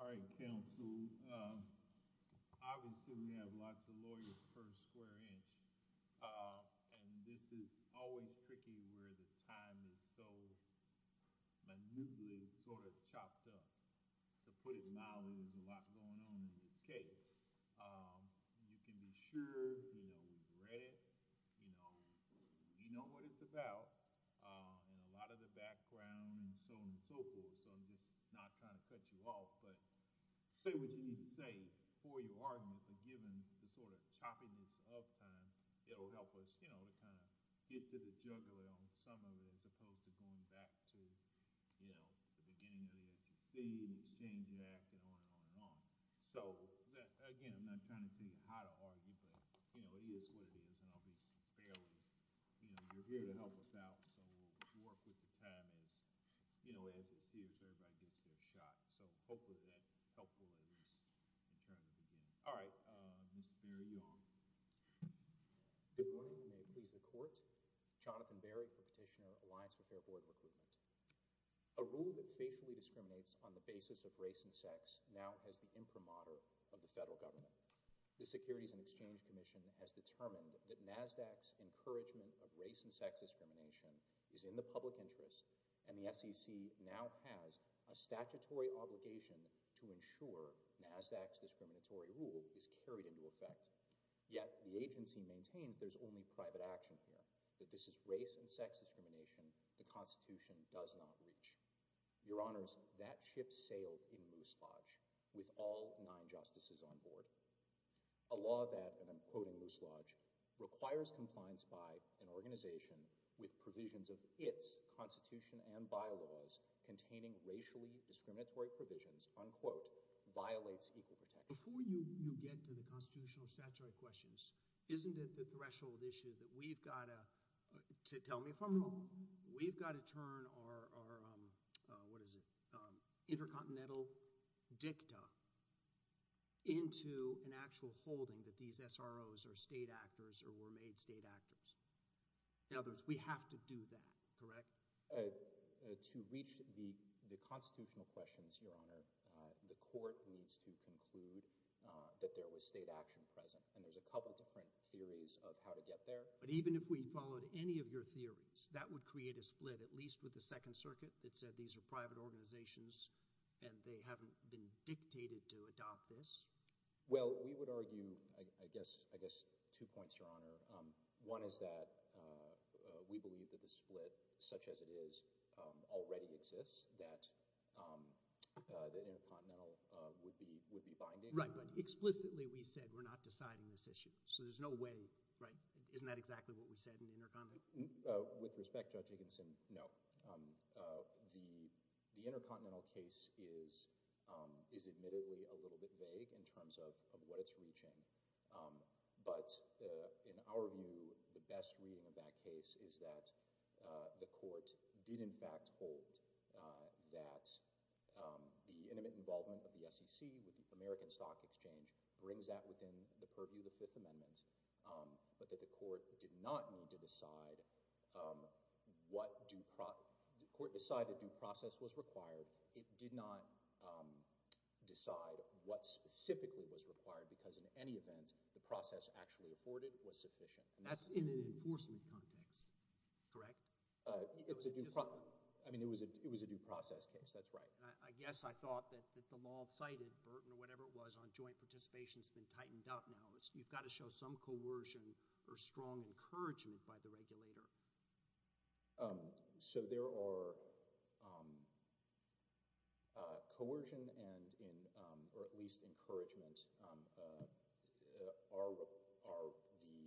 All right, Council. Obviously, we have lots of lawyers per square inch, and this is always tricky where the time is so manually sort of chopped up. To put it mildly, there's a lot going on in this case. You can be sure, you know, we've read it, you know what it's about, and a lot of the background and so on and so forth, so I'm just not trying to cut you off, but say what you need to say before your argument, and given the sort of chopping this up time, it'll help us, you know, kind of get to the juggler on some of it as opposed to going back to, you know, the beginning of the agency and seeing the fact and on and on and on. So, again, I'm not trying to teach you how to argue, but, you know, it is what it is, and obviously, you know, you're here to help us out, so we'll work with the time as, you know, everybody gets their shot. So, hopefully, that's helpful in terms of that. All right, Mr. Berry, you're on. Good morning, and may it please the Court. Jonathan Berry, Petitioner, Alliance for Fair Employment Recruitment. A rule that facially discriminates on the basis of race and sex now has the imprimatur of the federal government. The Securities and Exchange Commission has determined that NASDAQ's encouragement of race and sex discrimination is in the public interest, and the SEC now has a statutory obligation to ensure NASDAQ's discriminatory rule is carried into effect, yet the agency maintains there's only private action here, that this is race and sex discrimination the Constitution does not reach. Your Honors, that ship's sailed in loose lodge with all nine Justices on board. A law that, and I'm quoting loose lodge, requires compliance by an organization with provisions of its Constitution and bylaws containing racially discriminatory provisions, unquote, violates equal protection. Before you get to the constitutional statutory questions, isn't it the threshold issue that we've got to, tell me if I'm wrong, we've got to turn our, what is it, intercontinental dicta into an actual holding that these SROs are state actors or were made state actors? In other words, we have to do that, correct? To reach the constitutional questions, Your Honor, the Court needs to conclude that there was state action present, and there's a couple different theories of how to get there. But even if we followed any of your theories, that would create a split, at least with the Second Circuit that said these are private organizations and they haven't been dictated to adopt this? Well, we would argue, I guess, two points, Your Honor. One is that we believe that the split, such as it is, already exists, that intercontinental would be binding. Right, but explicitly we said we're not deciding this issue. So there's no way, right, isn't that exactly what we said in the intercontinental? With respect, Judge Higginson, no. The intercontinental case is admittedly a little bit vague in terms of what it's reaching, but in our view, the best reading of that case is that the Court did in fact hold that the intimate involvement of the SEC, the American Stock Exchange, brings that within the purview of the Fifth Amendment, but that the Court did not need to decide what due process—the Court decided due process was required. It did not decide what specifically was required, because in any event, the process actually afforded was sufficient. That's in the enforcement court case, correct? It was a due process case, that's right. I guess I thought that the all-cited burden, or whatever it was, on joint participation has been tightened up now. You've got to show some coercion or strong encouragement by the regulator. So there are coercion and, or at least encouragement, are the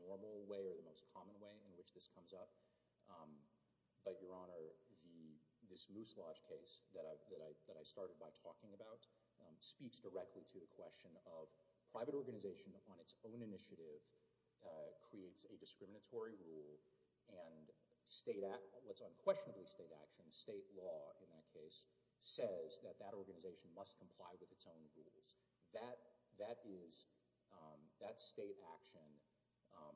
normal way or the most common way in which this comes up. But, Your Honor, this Moose Lodge case that I started by talking about speaks directly to the question of private organization on its own initiative creates a discriminatory rule, and what's unquestionably state action, state law in that case, says that that organization must comply with its own rules. That is that state action of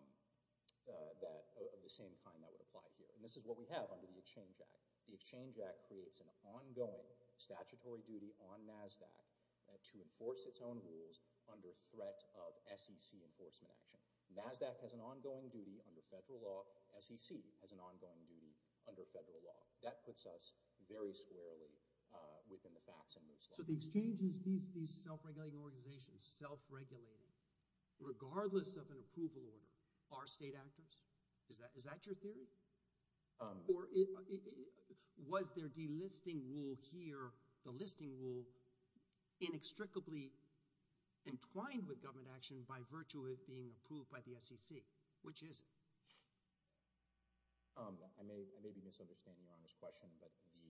the same kind that would apply here. And this is what we have under the Exchange Act creates an ongoing statutory duty on NASDAQ to enforce its own rules under threat of SEC enforcement action. NASDAQ has an ongoing duty under federal law, SEC has an ongoing duty under federal law. That puts us very squarely within the facts of Moose Lodge. So the Exchange is these self-regulating organizations, self-regulating, regardless of an approval order, are state actors? Is that your theory? Or was their delisting rule here, the listing rule, inextricably entwined with government action by virtue of it being approved by the SEC? Which is it? I may be misunderstanding Your Honor's question, but the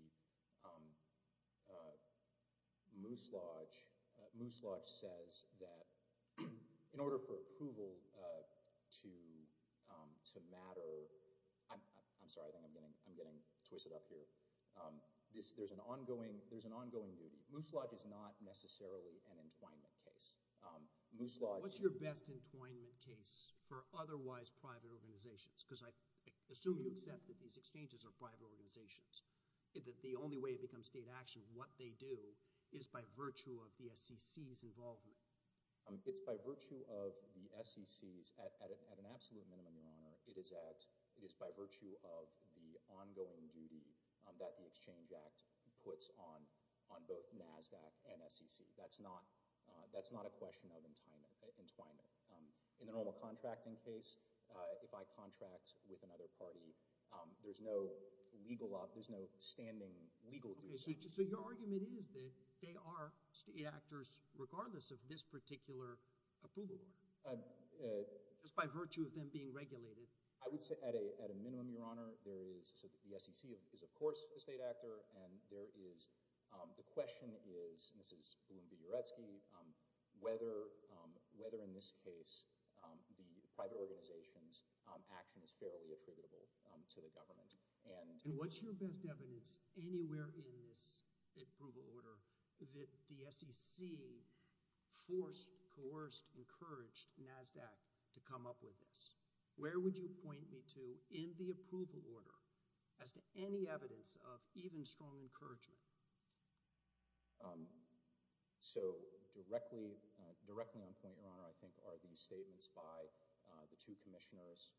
Moose Lodge, Moose Lodge says that in order for approval to matter, I'm sorry, I'm getting twisted up here, there's an ongoing duty. Moose Lodge is not necessarily an entwinement case. Moose Lodge... What's your best entwinement case for otherwise private organizations? Because I assume you accept that these exchanges are private organizations. That the only way it becomes state action, what they do, is by virtue of the SEC's involvement. It's by virtue of the SEC's, at an absolute minimum Your Honor, it is by virtue of the ongoing duty that the Exchange Act puts on both NASDAQ and SEC. That's not a question of entwinement. In a normal contracting case, if I contract with another party, there's no legal, there's no standing legal reason. So your argument is that they are state actors regardless of this particular approval order? Just by virtue of them being regulated? I would say at a minimum Your Honor, there is, the SEC is of course a state actor, and there will be whether in this case the private organization's action is fairly attributable to the government. And what's your best evidence anywhere in this approval order that the SEC forced, coerced, encouraged NASDAQ to come up with this? Where would you point me to in the approval order as to any evidence of even strong encouragement? So directly on point Your Honor, I think arguments stated by the two commissioners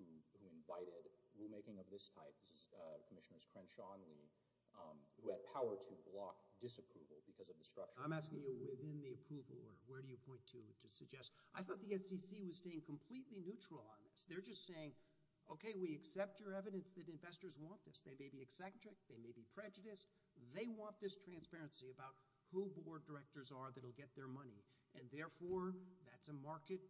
who invited rule making of this type, this is Commissioner Crenshaw and me, who have power to block disapproval because of the structure. I'm asking you within the approval order, where do you point to to suggest? I thought the SEC was staying completely neutral on this. They're just saying, okay, we accept your evidence that investors want this. They may be eccentric, they may be prejudiced, they want this transparency about who board directors are that'll get their money. And therefore, that's a market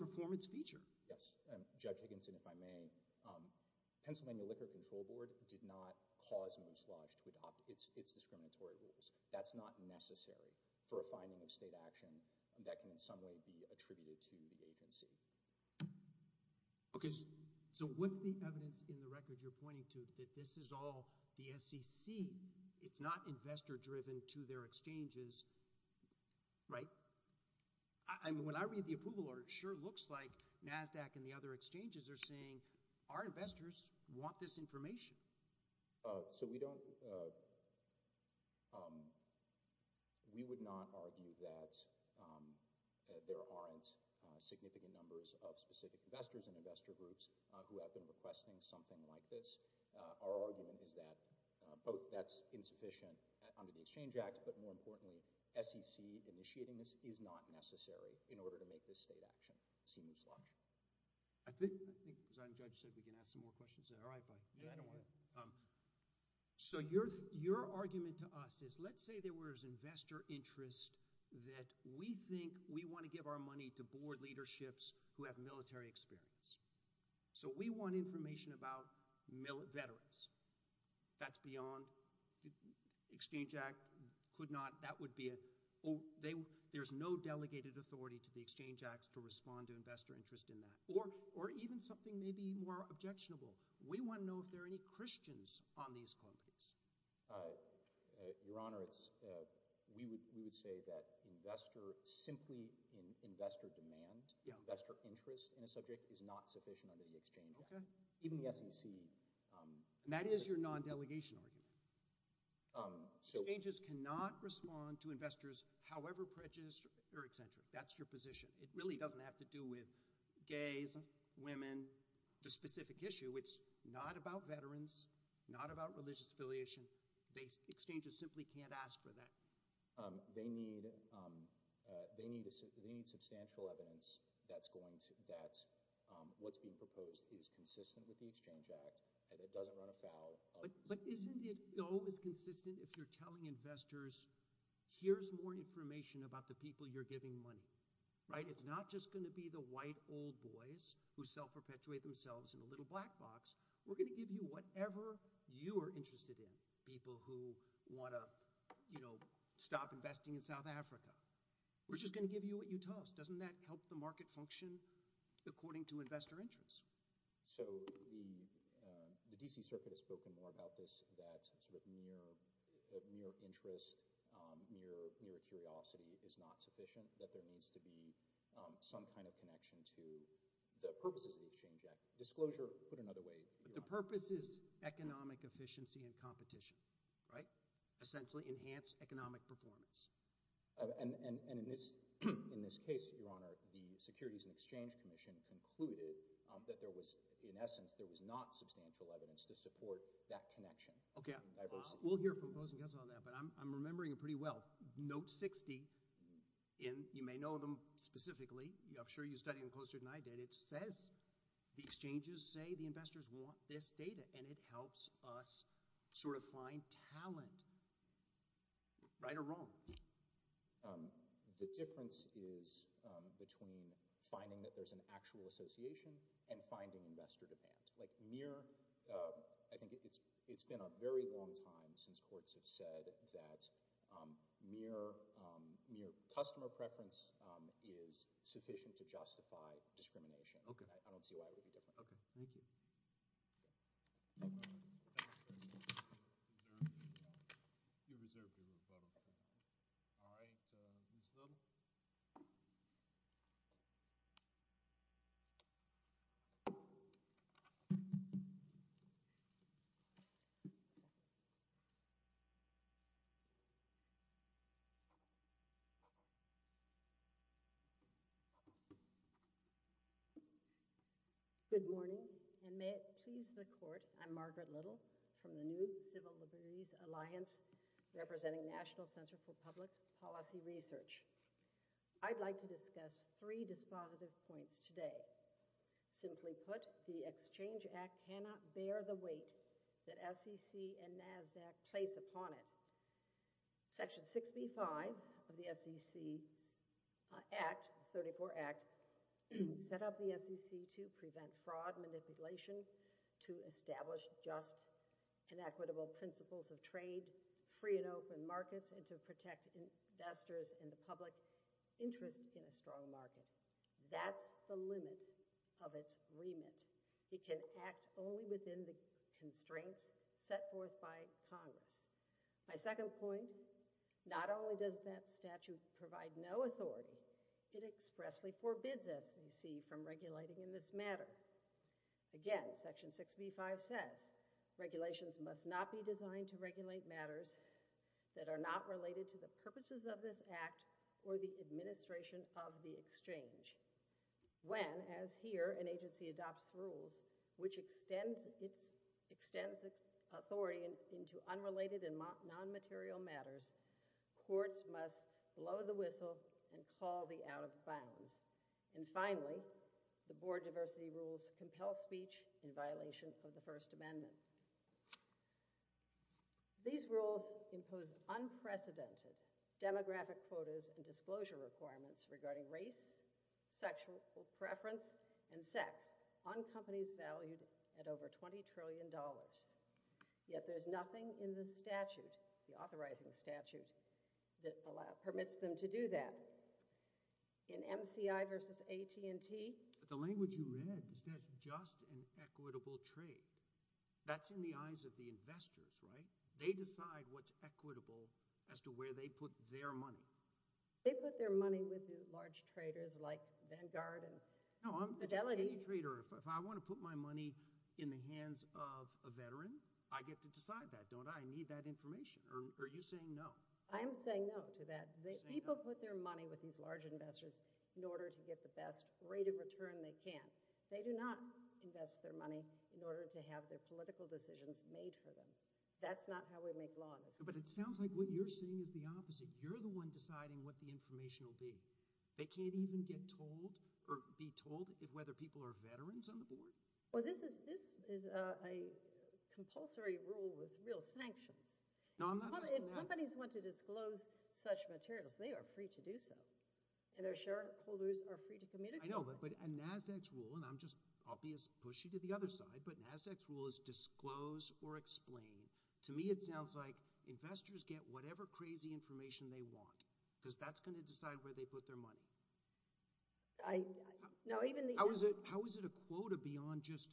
performance feature. Yes, Judge Higginson, if I may, Pennsylvania Liquor Control Board did not cause a mislodge to adopt its discriminatory rules. That's not necessary for a finding of state action, and that can in some way be attributed to the agency. Okay, so what's the evidence in the record you're pointing to that this is all the SEC? It's not investor-driven to their exchanges, right? I mean, when I read the approval order, it sure looks like NASDAQ and the other exchanges are saying our investors want this information. So we don't, we would not argue that there aren't significant numbers of specific investors and investor groups who have been requesting something like this. Our argument is that both that's insufficient under the Exchange Act, but more importantly, SEC initiating this is not necessary in order to make this mislodge. So your argument to us is, let's say there was investor interest that we think we want to give our money to board leaderships who have military experience. So we want information about veterans. That's beyond, Exchange Act could not, that would be, there's no delegated authority to the Exchange Acts to respond to investor interest in that. Or even something maybe more objectionable. We want to know if there are any Christians on these claims. Your Honor, we would say that investor, simply investor demand, investor interest in a subject is not sufficient under the Exchange Act, even the SEC. That is your however prejudiced or eccentric. That's your position. It really doesn't have to do with gays, women, the specific issue. It's not about veterans, not about religious affiliation. They, exchanges simply can't ask for that. They need, they need, they need substantial evidence that's going to, that's what's being proposed is consistent with the Exchange Act and it doesn't run afoul. But isn't it, no, it's consistent if you're telling investors, here's more information about the people you're giving money, right? It's not just going to be the white old boys who self-perpetuate themselves in a little black box. We're going to give you whatever you are interested in. People who want to, you know, stop investing in South Africa. We're just going to give you what you toss. Doesn't that help the market function according to investor interest? So the, the D.C. Circuit has spoken more about this, that sort of mere, of mere interest, mere, mere curiosity is not sufficient, that there needs to be some kind of connection to the purposes of the Exchange Act. Disclosure, put another way. The purpose is economic efficiency and competition, right? Essentially enhance economic performance. And, and, and in this, in this case, Your Honor, the Securities and Exchange Commission concluded that there was, in essence, there was not substantial evidence to Okay, we'll hear from both of us on that, but I'm, I'm remembering it pretty well. Note 60 in, you may know them specifically, I'm sure you study them closer than I did. It says the exchanges say the investors want this data and it helps us sort of find talent. Right or wrong? The difference is between finding that there's an actual association and finding investor demand. Like mere, I think it's, it's been a very long time since courts have said that mere, mere customer preference is sufficient to justify discrimination. Okay. I don't see why it'd be Good morning, and may it please the Court, I'm Margaret Little from the new Civil Liberties Alliance, representing National Center for Public Policy Research. I'd like to discuss three dispositive points today. Simply put, the Exchange Act cannot bear the weight that SEC and NASDAQ place upon it. Section 65 of the SEC Act, 34 Act, set up the SEC to prevent fraud, manipulation, to establish just and equitable principles of trade, free and open That's the limit of its remit. It can act only within the constraints set forth by Congress. My second point, not only does that statute provide no authority, it expressly forbids SEC from regulating in this matter. Again, Section 65 says regulations must not be designed to regulate matters that are not related to the purposes of this Act or the administration of the Exchange. When, as here, an agency adopts rules which extends its authority into unrelated and non-material matters, courts must blow the whistle and call the out of bounds. And finally, the board diversity rules compel speech in violation of the First Amendment. These rules impose unprecedented demographic quotas and disclosure requirements regarding race, sexual preference, and sex on companies valued at over 20 trillion dollars. Yet there's nothing in this statute, the authorizing statute, that permits them to do that. In MCI versus AT&T, the language you read is that just and equitable trade. That's in the eyes of the investors, right? They decide what's equitable as to where they put their money. They put their money with these large traders like Vanguard and Fidelity. If I want to put my money in the hands of a veteran, I get to decide that, don't I? I need that information. Or are you saying no? I am saying no to that. People put their money with these large investors in order to get the best rate return they can. They do not invest their money in order to have their political decisions made for them. That's not how we make laws. But it sounds like what you're saying is the opposite. You're the one deciding what the information will be. They can't even get told or be told whether people are veterans on the board? Well, this is a compulsory rule with real sanctions. If somebody wants to disclose such materials, they are free to do so. And their shareholders are free to communicate? I know, but NASDAQ's rule, and I'll just obviously push you to the other side, but NASDAQ's rule is disclose or explain. To me, it sounds like investors get whatever crazy information they want, because that's going to decide where they put their money. How is it a quota beyond just,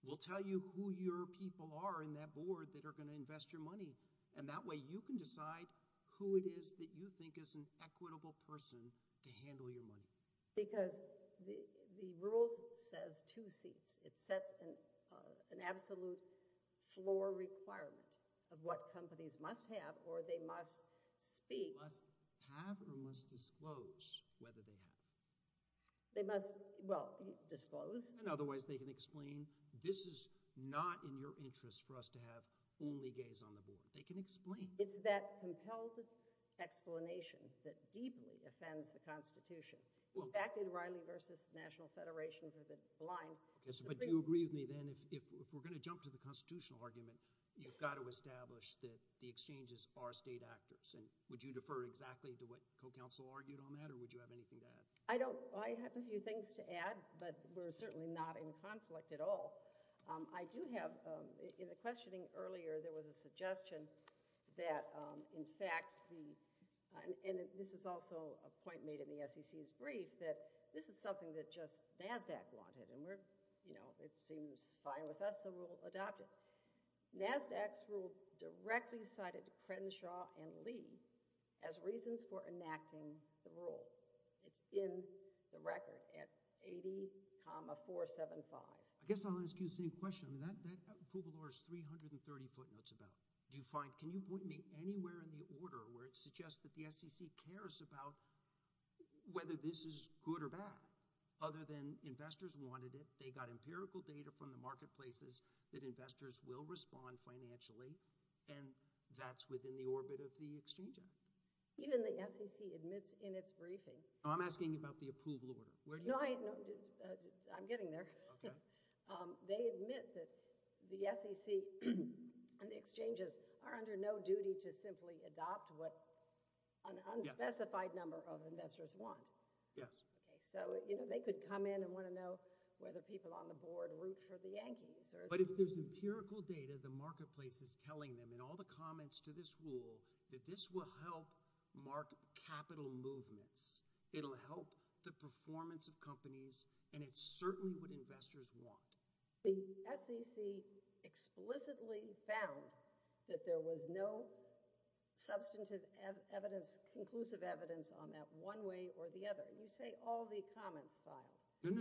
we'll tell you who your people are in that board that are going to invest your money, and that way you can decide who it is that you think is an equitable person to handle your money. Because the rule says two things. It sets an absolute floor requirement of what companies must have or they must be. They must have or must disclose whether they have. They must, well, disclose. And otherwise they can explain, this is not in your interest for us to only have gays on the board. They can explain. It's that compulsive explanation that deeply offends the Constitution. Well, back in Reilly v. National Federation, there's a line. But do you agree with me then, if we're going to jump to the constitutional argument, you've got to establish that the exchanges are state actors. And would you defer exactly to what co-counsel argued on that, or would you have anything to add? I have a few things to add, but we're certainly not in conflict at all. I do have, in the questioning earlier, there was a suggestion that, in fact, and this is also a point made in the SEC's brief, that this is something that just NASDAQ wanted, and we're, you know, it seems fine with us, so we'll adopt it. NASDAQ's rule directly cited Crenshaw and Lee as reasons for enacting the rule. It's in the record at 80,475. I guess I'll ask you the same question. That approval order is 330 footnotes about. Do you find, can you point me anywhere in the order where it suggests that the SEC cares about whether this is good or bad, other than investors wanted it, they got empirical data from the marketplaces that investors will respond financially, and that's within the orbit of the exchange act? Even the SEC admits in its briefing. I'm asking about the approval order. No, I'm getting there. They admit that the SEC and the exchanges are under no duty to simply adopt what an unspecified number of investors want. So, you know, they could come in and want to know whether people on the board root for the Yankees. But if there's empirical data, the marketplace is telling them, in all the comments to this rule, that this will help capital movements. It'll help the performance of companies, and it's certainly what investors want. The SEC explicitly found that there was no substantive evidence, conclusive evidence, on that one way or the other. You say all the comments filed. Give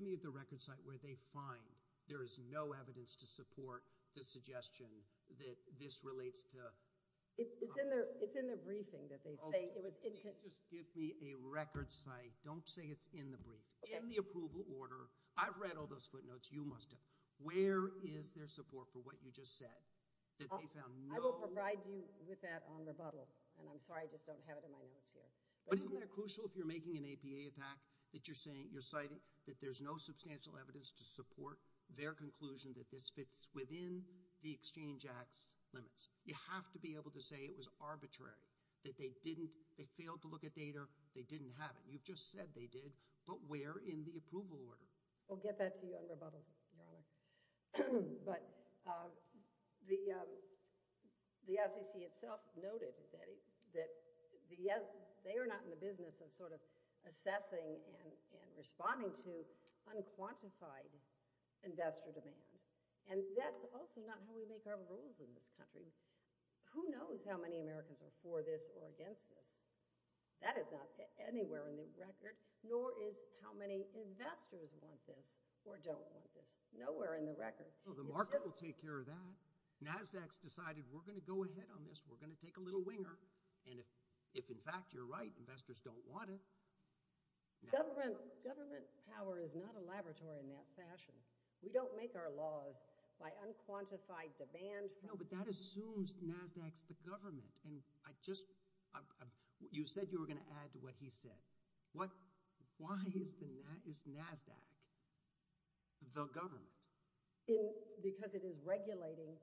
me the record site where they find there is no evidence to support the suggestion that this is in the briefing. Just give me a record site. Don't say it's in the briefing. In the approval order, I've read all those footnotes. You must have. Where is their support for what you just said? I will provide you with that on rebuttal, and I'm sorry I just don't have it in my notes here. Isn't it crucial if you're making an APA that you're citing that there's no substantial evidence to support their conclusion that this fits within the exchange act's limits? You have to be able to say it was arbitrary, that they failed to look at data, they didn't have it. You've just said they did, but where in the approval order? We'll get that to you on rebuttal. But the SEC itself noted that they are not in the business of assessing and responding to unquantified investor demand, and that's also not how we make our rules in this country. Who knows how many Americans are for this or against this? That is not anywhere in the record, nor is how many investors want this or don't want this. Nowhere in the record. So the market will take care of that. NASDAQ's decided we're going to go ahead on this. We're going to take a little winger, and if in fact you're right, investors don't want it. Government power is not a laboratory in that fashion. We don't make our laws by unquantified demand. But that assumes NASDAQ's the government, and you said you were going to add to what he said. Why is NASDAQ the government? Because it is regulating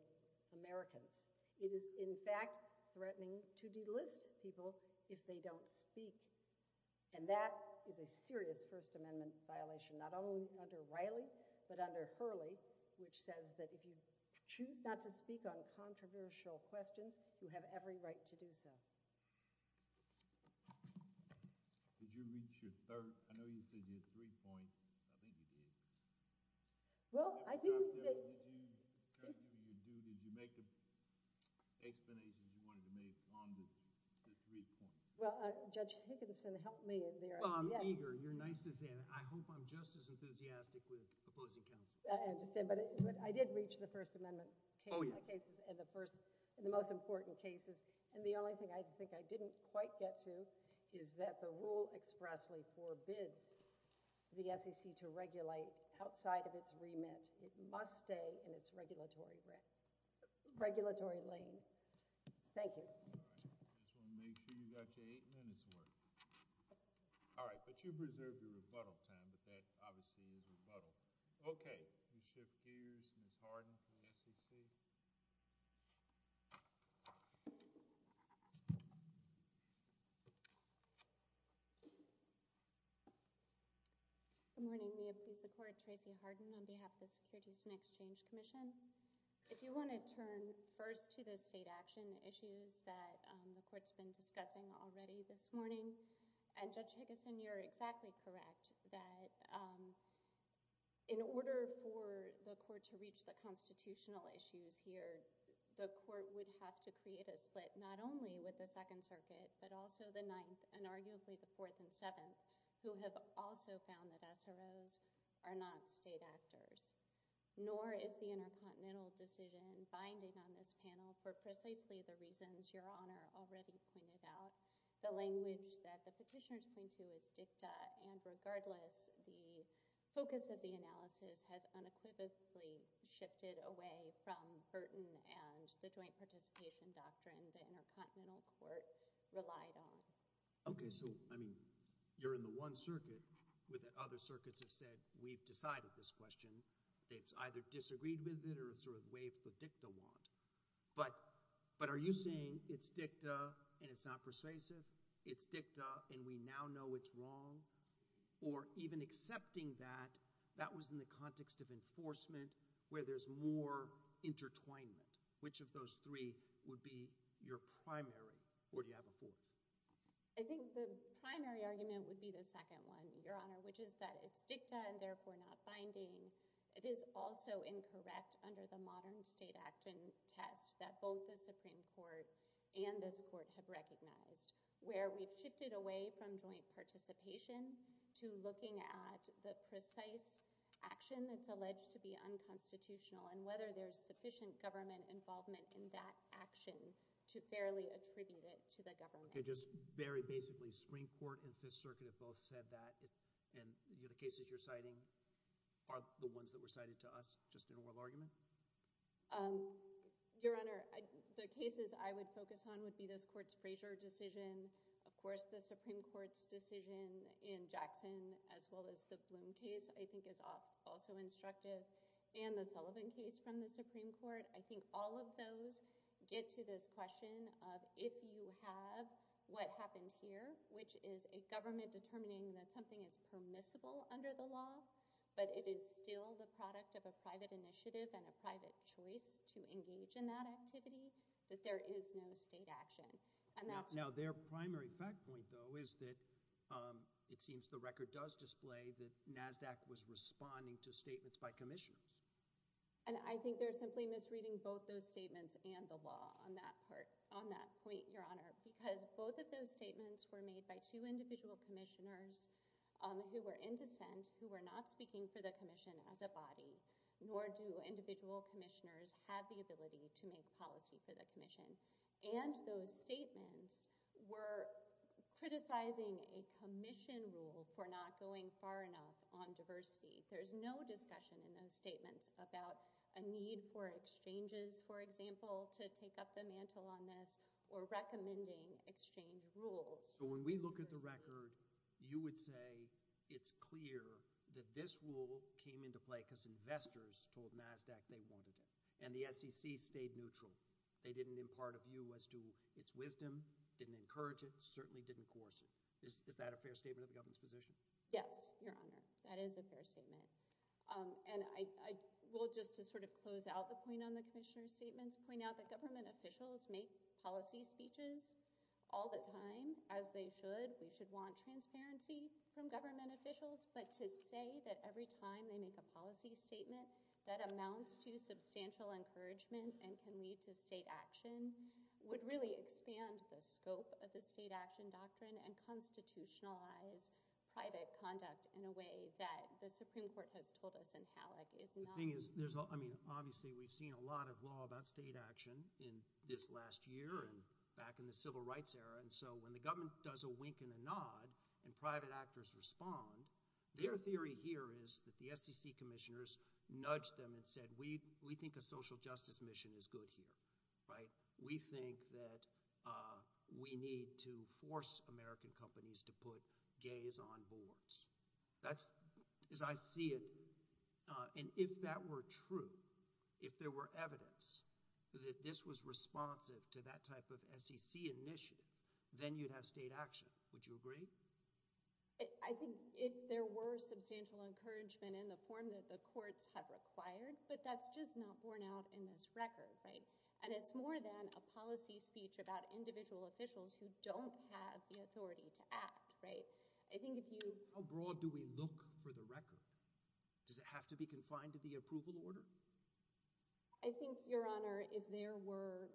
Americans. It is in fact threatening to delist people if they don't speak, and that is a serious First Amendment violation, not only under Riley, but under Hurley, which says that if you choose not to speak on controversial questions, you have every right to do so. Did you reach your third? I know you said you had three points, but I think you did. Well, I didn't say— Was there anything you could do? Did you make the explanations you wanted to make on the three points? Well, Judge Higginson, help me in there. I'm eager. You're nice to say that. I hope I'm just as enthusiastic with opposing counsel. I understand, but I did reach the First Amendment cases and the most important cases, and the only thing I think I didn't quite get to is that the rule expressly forbids the SEC to regulate outside of its remit. It must stay in its regulatory lane. Thank you. I just want to make sure you got to eight minutes worth. All right, but you preserved your rebuttal time, but that obviously needs a rebuttal. Okay, we shift gears to Ms. Harden from the SEC. Good morning. We have the support of Tracy Harden on behalf of the Securities and Exchange Commission. If you want to turn first to the state action issues that the Court's been discussing already this morning, and Judge Higginson, you're exactly correct that in order for the Court to reach the constitutional issues here, the Court would have to create a split not only with the Second Circuit, but also the Ninth and arguably the Fourth and Seventh, who have also found that SROs are not state actors. Nor is the Intercontinental Decision binding on this panel for precisely the reasons Your Honor already pointed out. The language that the petitioner is pointing to is dicta, and regardless, the focus of the analysis has unequivocally shifted away from Burton and the joint participation doctrine that Intercontinental Court relied on. Okay, so I mean, you're in the One Circuit, where the other circuits have said, we've decided this question. It's either disagreed with it or it's sort of waived for dicta want. But are you saying it's dicta and it's not persuasive? It's dicta and we now know it's wrong? Or even accepting that, that was in the context of enforcement, where there's more intertwinement? Which of those three would be your primary? Or do you have a fourth? I think the primary argument would be the second one, Your Honor, which is that it's dicta and therefore not binding. It is also incorrect under the modern state action test that both the Supreme Court and this Court have recognized, where we've shifted away from joint participation to looking at the precise action that's alleged to be unconstitutional and whether there's sufficient government involvement in that action to fairly attribute it to the government. Very basically, Supreme Court and Fifth Circuit have both said that, and the cases you're citing are the ones that were cited to us, just in oral argument? Your Honor, the cases I would focus on would be this Court's Frazier decision. Of course, the Supreme Court's decision in Jackson, as well as the Bloom case, I think is also instructive. And the Sullivan case from the Supreme Court. I think all of those get to this what happened here, which is a government determining that something is permissible under the law, but it is still the product of a private initiative and a private choice to engage in that activity, that there is no state action. Now, their primary fact point, though, is that it seems the record does display that NASDAQ was responding to statements by commissioners. And I think they're simply misreading both those statements and the law on that point, Your Honor, because both of those statements were made by two individual commissioners who were in defense, who were not speaking for the commission as a body, nor do individual commissioners have the ability to make policy for the commission. And those statements were criticizing a commission rule for not going far enough on diversity. There's no discussion in those statements about a need for exchanges, for example, to take up the mantle on this, or recommending exchange rules. So when we look at the record, you would say it's clear that this rule came into play because investors told NASDAQ they wanted it, and the SEC stayed neutral. They didn't impart a view as to its wisdom, didn't encourage it, certainly didn't coerce it. Is that a fair statement of the government's position? Yes, Your Honor, that is a fair statement. And I will, just to sort of close out the point on the commissioner's statement, point out that government officials make policy speeches all the time, as they should. We should want transparency from government officials, but to say that every time they make a policy statement that amounts to substantial encouragement and can lead to state action would really expand the scope of the state action doctrine and constitutionalize private conduct in a way that the Supreme Court has told us is inalienable. Obviously, we've seen a lot of law about state action in this last year and back in the civil rights era, and so when the government does a wink and a nod and private actors respond, their theory here is that the SEC commissioners nudged them and said, we think a social justice mission is good here. We think that we need to force American companies to put gays on boards. That's, as I see it, and if that were true, if there were evidence that this was responsive to that type of SEC initiative, then you'd have state action. Would you agree? I think if there were substantial encouragement in the form that the courts have required, but that's just not borne out in this record, right? And it's more than a policy speech about individual officials who don't have the authority to act, right? I think if you... How broad do we look for the record? Does it have to be confined to the approval order? I think, Your Honor, if there were,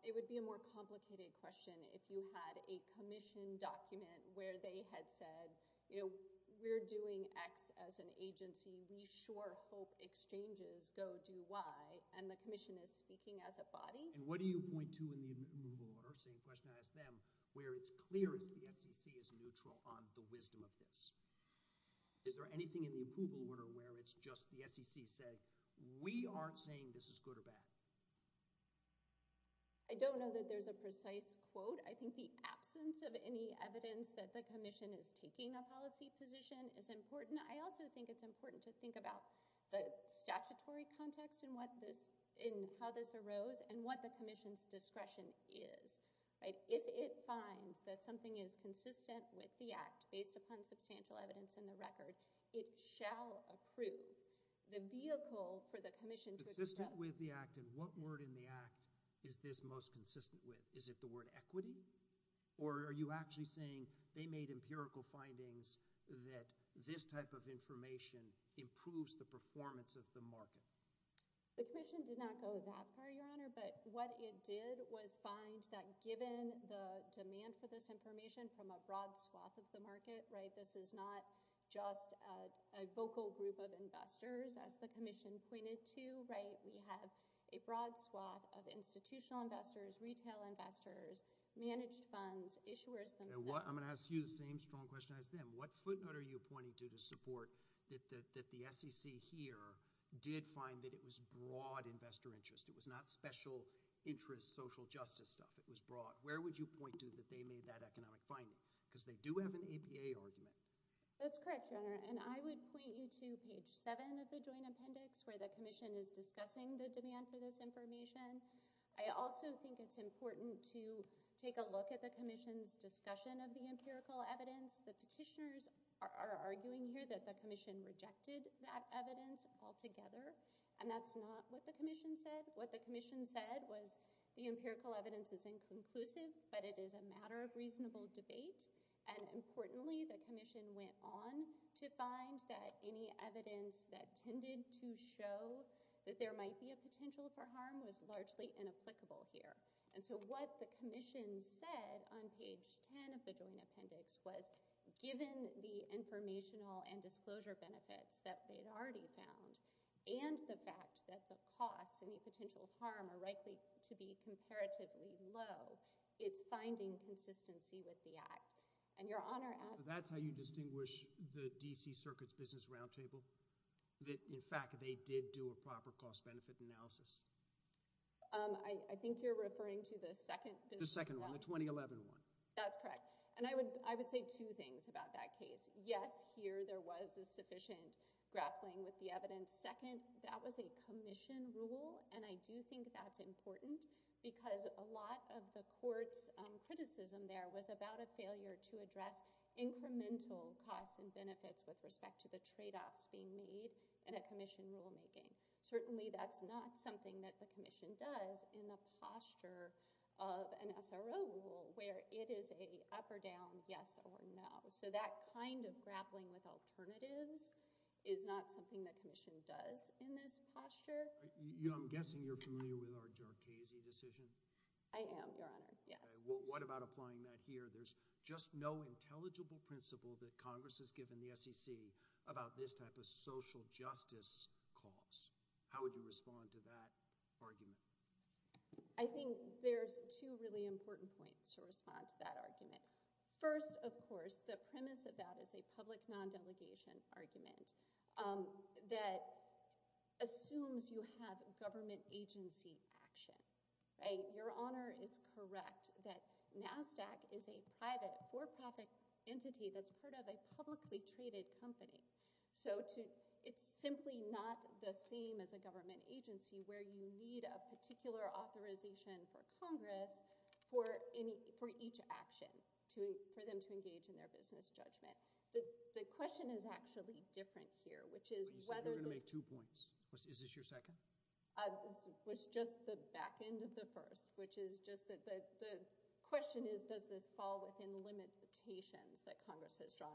it would be a more complicated question if you had a commission document where they had said, we're doing X as an agency, we sure hope exchanges go to Y, and the commission is speaking as a body. And what do you point to in the approval order, same question I asked them, where it's clear that the SEC is neutral on the wisdom of this? Is there anything in the approval order where it's just the SEC saying, we aren't saying this is good or bad? I don't know that there's a precise quote. I think the absence of any evidence that the commission is taking a policy position is important. I also think it's important to think about the statutory context in how this arose and what the commission's discretion is, right? If it finds that something is consistent with the act based upon substantial evidence in the record, it shall approve the vehicle for the commission... Consistent with the act, and what word in the act is this most consistent with? Is it the word equity? Or are you actually saying they made empirical findings that this type of information improves the performance of the market? The commission did not go that far, Your Honor, but what it did was find that given the demand for this information from a broad swath of the market, right, this is not just a vocal group of investors as the commission pointed to, right? We have a broad swath of institutional investors, retail investors, managed funds, issuers... I'm going to ask you the same strong question I asked them. What footnote are you pointing to to support that the SEC here did find that it was broad investor interest? It was not special interest social justice stuff. It was broad. Where would you point to that they made that economic finding? Because they do have an EPA argument. That's correct, Your Honor, and I would point you to page 7 of the joint appendix where the commission is discussing the demand for this information. I also think it's important to take a look at the commission's discussion of the empirical evidence. The petitioners are arguing here that the commission rejected that evidence altogether, and that's not what the commission said. What the commission said was the empirical evidence is inconclusive, but it is a matter of reasonable debate, and importantly the commission went on to find that any evidence that tended to show that there might be a potential for harm was largely inapplicable here. And so what the commission said on page 10 of the joint appendix was, given the informational and disclosure benefits that they'd already found, and the fact that the any potential harm are likely to be comparatively low, it's finding consistency with the act. And Your Honor, that's how you distinguish the D.C. Circuit's business roundtable, that in fact they did do a proper cost-benefit analysis. I think you're referring to the second the second one, the 2011 one. That's correct, and I would say two things about that case. Yes, here there was a sufficient grappling with the evidence. Second, that was a commission rule, and I do think that's important because a lot of the court's criticism there was about a failure to address incremental costs and benefits with respect to the trade-offs being made in a commission rulemaking. Certainly that's not something that the commission does in the posture of an SRO rule, where it is a up or down, yes or no. So that kind of grappling with alternatives is not something the commission does in this posture. I'm guessing you're familiar with our Durkheisy decision? I am, Your Honor, yes. Well, what about applying that here? There's just no intelligible principle that Congress has given the SEC about this type of social justice costs. How would you respond to that argument? I think there's two really important points to respond to that argument. First, of course, the premise of that is a public non-delegation argument that assumes you have government agency action. Your Honor is correct that NASDAQ is a private for-profit entity that's part of a publicly traded company. So it's simply not the same as a government agency where you need a particular authorization for Congress for each action, for them to engage in their business judgment. The question is actually different here, which is whether... You said you were going to make two points. Is this your second? It was just the back end of the first, which is just that the question is, does this fall within limitations that Congress has drawn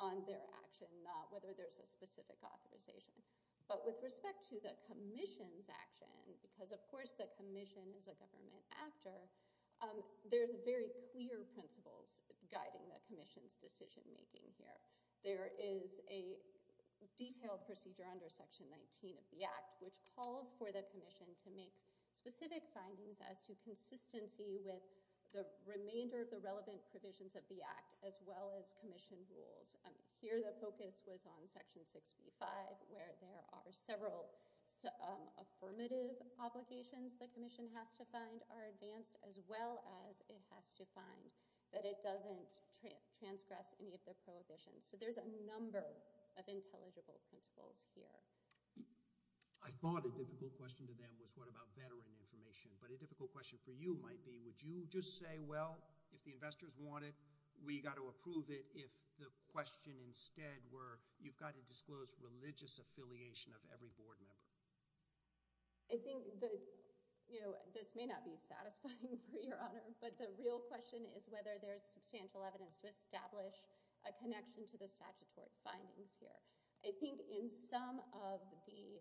on their action, not whether there's a specific authorization? But with respect to the Commission's action, because of course the Commission is a government actor, there's very clear principles guiding the Commission's decision making here. There is a detailed procedure under Section 19 of the Act which calls for the remainder of the relevant provisions of the Act as well as Commission rules. Here the focus was on Section 65 where there are several affirmative obligations the Commission has to find are advanced as well as it has to find that it doesn't transgress any of the prohibitions. So there's a number of intelligible principles here. I thought a difficult question to that was what about veteran information, but a difficult question for you might be, would you just say, if the investors want it, we got to approve it if the question instead were you've got to disclose religious affiliation of every board member? I think this may not be satisfying for your honor, but the real question is whether there's substantial evidence to establish a connection to the statutory findings here. I think in some of the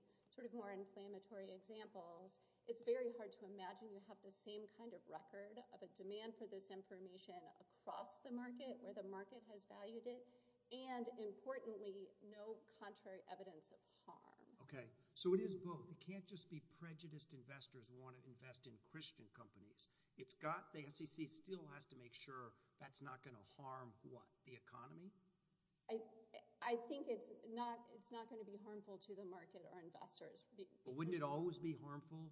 more inflammatory examples, it's very hard to imagine to have the same kind of record of a demand for this information across the market where the market has valued it and importantly no contrary evidence of harm. Okay, so it is both. It can't just be prejudiced investors want to invest in Christian companies. It's got, the SEC still has to make sure that's not going to harm what, the economy? I think it's not going to be harmful to the market or investors. Wouldn't it always be harmful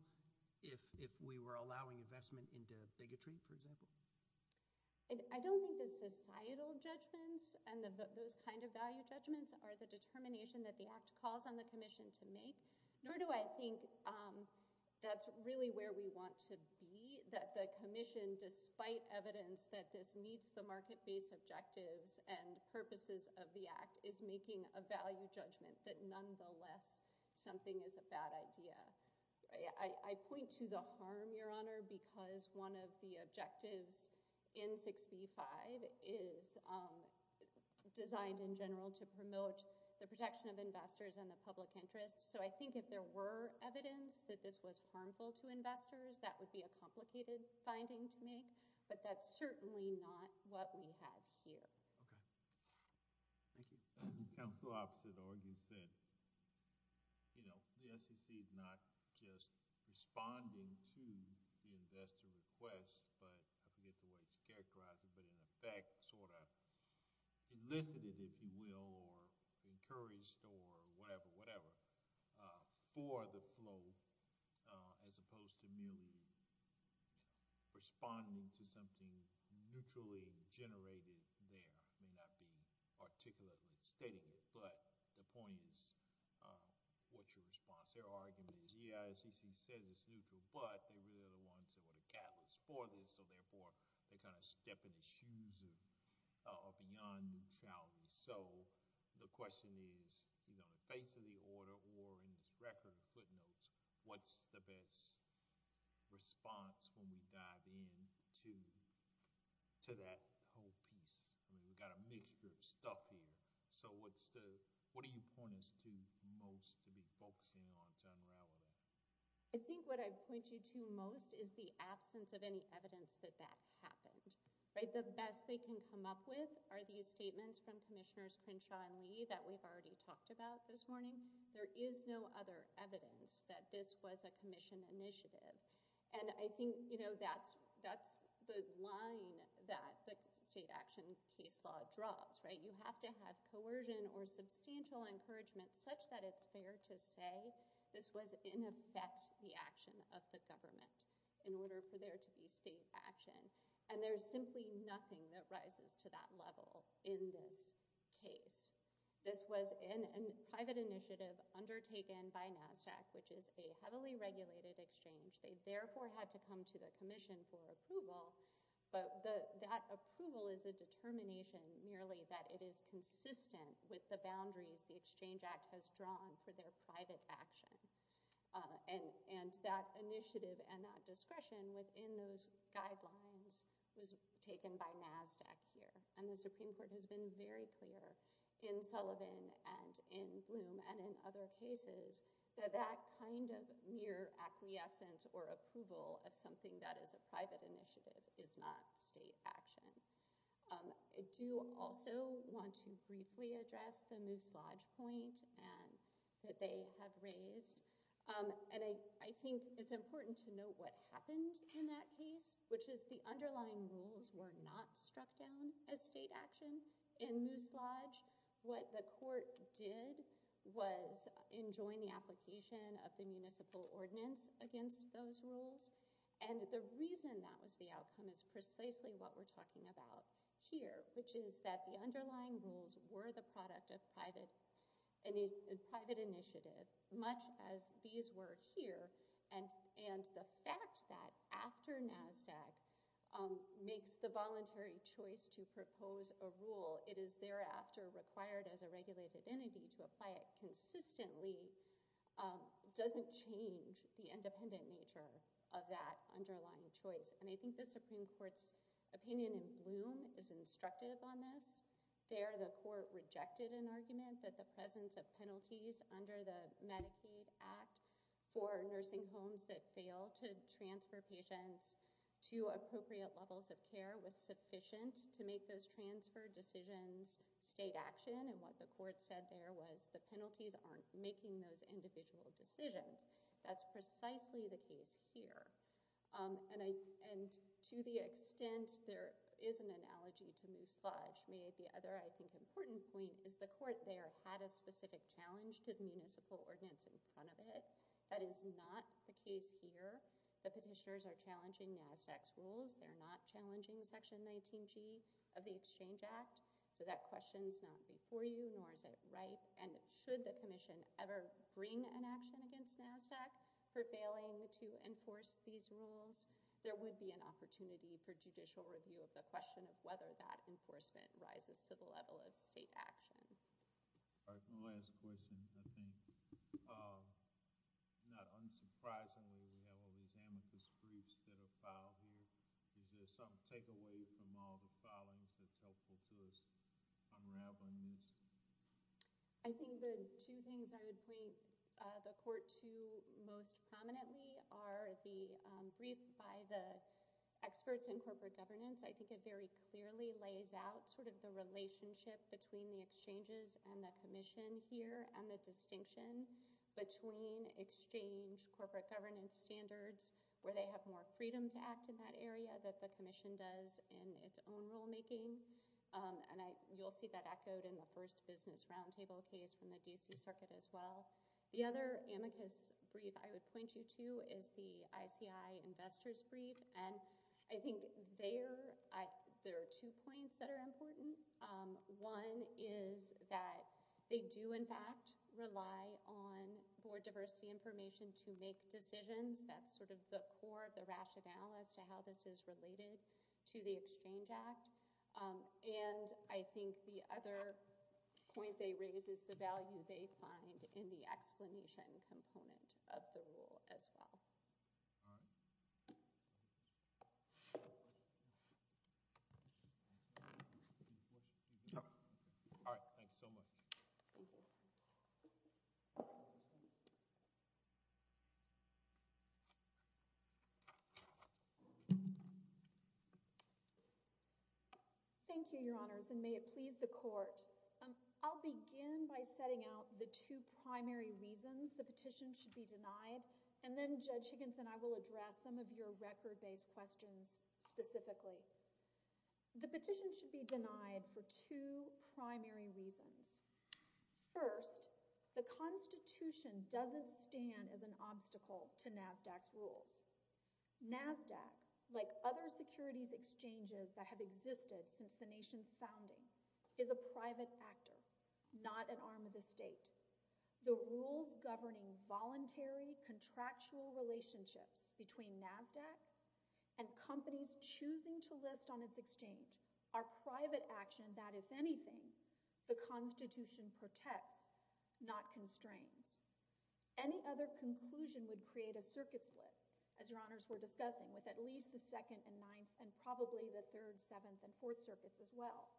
if we were allowing investment into bigotry, for example? I don't think the societal judgments and those kinds of value judgments are the determination that the act calls on the commission to make, nor do I think that's really where we want to be, that the commission, despite evidence that this meets the market-based objectives and purposes of the act, is making a value judgment that nonetheless something is a bad idea. I point to the harm, your honor, because one of the objectives in 65 is designed in general to promote the protection of investors and the public interest. So I think if there were evidence that this was harmful to investors, that would be a complicated finding to make, but that's certainly not what we have here. Okay. Thank you. I'm the opposite of what you said. You know, the SEC is not just responding to the investor request, but I forget what it's characterized, but in effect sort of enlisted, if you will, or encouraged, or whatever, whatever, for the flow, as opposed to merely responding to something neutrally generated there, may not be articulately stated, but the point is, what's your response? Their argument is, yeah, as you said, it's neutral, but they really are the ones that were the catalysts for this, so therefore they kind of step in the shoes of young children. So the question is, on the face of the order or in this record, footnotes, what's the best response when we dive in to that whole piece? We've got a mixture of stuff here. So what do you point us to most to be focusing on generally? I think what I point you to most is the absence of any evidence that that happened. The best they can come up with are these statements from Commissioners about this morning. There is no other evidence that this was a Commission initiative, and I think that's the line that the state action case law draws. You have to have coercion or substantial encouragement such that it's fair to say this was in effect the action of the government in order for there to be state action, and there's simply nothing that rises to that level in this case. This was a private initiative undertaken by NASDAQ, which is a heavily regulated exchange. They therefore had to come to the Commission for approval, but that approval is a determination merely that it is consistent with the boundaries the Exchange Act has drawn for their private action, and that initiative and that discretion within those guidelines was taken by NASDAQ here, and the Supreme Court has been very clear in Sullivan and in Bloom and in other cases that that kind of mere acquiescence or approval of something that is a private initiative is not state action. I do also want to briefly address the misjudge point that they have raised, and I think it's important to note what happened in that case, which is the underlying rules were not struck down as state action in Moose Lodge. What the court did was enjoin the application of the municipal ordinance against those rules, and the reason that was the outcome is precisely what we're talking about here, which is that the underlying rules were the product of private initiative, much as these were here, and the fact that after NASDAQ makes the voluntary choice to propose a rule, it is thereafter required as a regulated entity to apply it consistently doesn't change the independent nature of that underlying choice, and I think the Supreme Court's opinion in Bloom is instructive on this. There the court rejected an argument that the presence of penalties under the Medicaid Act for nursing homes that fail to transfer patients to appropriate levels of care was sufficient to make those transfer decisions state action, and what the court said there was the penalties aren't making those individual decisions. That's precisely the case here, and to the extent there is an analogy to Moose Lodge, the other I think important point is the court there had a specific challenge to the municipal ordinance in front of it. That is not the case here. The petitioners are challenging NASDAQ's rules. They're not challenging Section 19G of the Exchange Act, so that question's not before you, nor is it right, and should the commission ever bring an action against NASDAQ for failing to enforce these rules, there would be an opportunity for judicial review of the question of whether that enforcement rises to the level of state action. All right, one last question. I think, not unsurprisingly, we have already examined these briefs that are filed here. Is there some takeaway from all the filings that's helpful to us from rambling these? I think the two things I would point the court to most prominently are the briefs by the amicus, which really lays out sort of the relationship between the exchanges and the commission here and the distinction between exchange corporate governance standards, where they have more freedom to act in that area that the commission does in its own rulemaking, and you'll see that echoed in the first business roundtable case from the D.C. Circuit as well. The other amicus brief I would point you to is the two points that are important. One is that they do, in fact, rely on more diversity information to make decisions. That's sort of the core of the rationale as to how this is related to the Exchange Act. And I think the other point they raise is the value they find in the explanation component of the rule as well. All right, thanks so much. Thank you, Your Honors, and may it please the Court. I'll begin by setting out the two primary reasons the petition should be denied, and then Judge Higgins and I will address some of your record-based questions specifically. The petition should be denied for two primary reasons. First, the Constitution doesn't stand as an obstacle to NASDAQ's rules. NASDAQ, like other securities exchanges that have existed since the nation's founding, is a private actor, not an arm of the state. The rules governing voluntary, contractual relationships between NASDAQ and companies choosing to list on its exchange are private action that, if anything, the Constitution protects, not constrains. Any other conclusion would create a circuit split, as Your Honors were discussing, with at least the second and ninth and probably the third, seventh, and fourth circuits as well.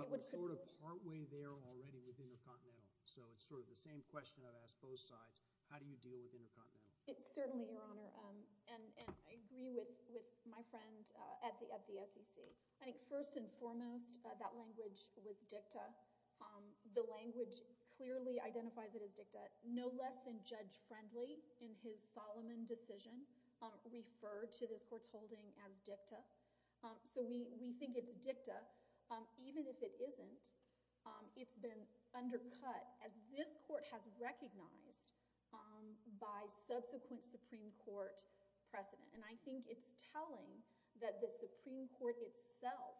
But we're sort of partway there already with intercontinental, so it's sort of the same question I'd ask both sides. How do you deal with intercontinental? Certainly, Your Honor, and I agree with my friend at the SEC. I think first and foremost, that language was dicta. The language clearly identifies it as dicta. No less than Judge Friendly, in his Solomon decision, referred to the court's holding as dicta. So we think it's dicta. Even if it isn't, it's been undercut, as this court has recognized by subsequent Supreme Court precedent. And I think it's telling that the Supreme Court itself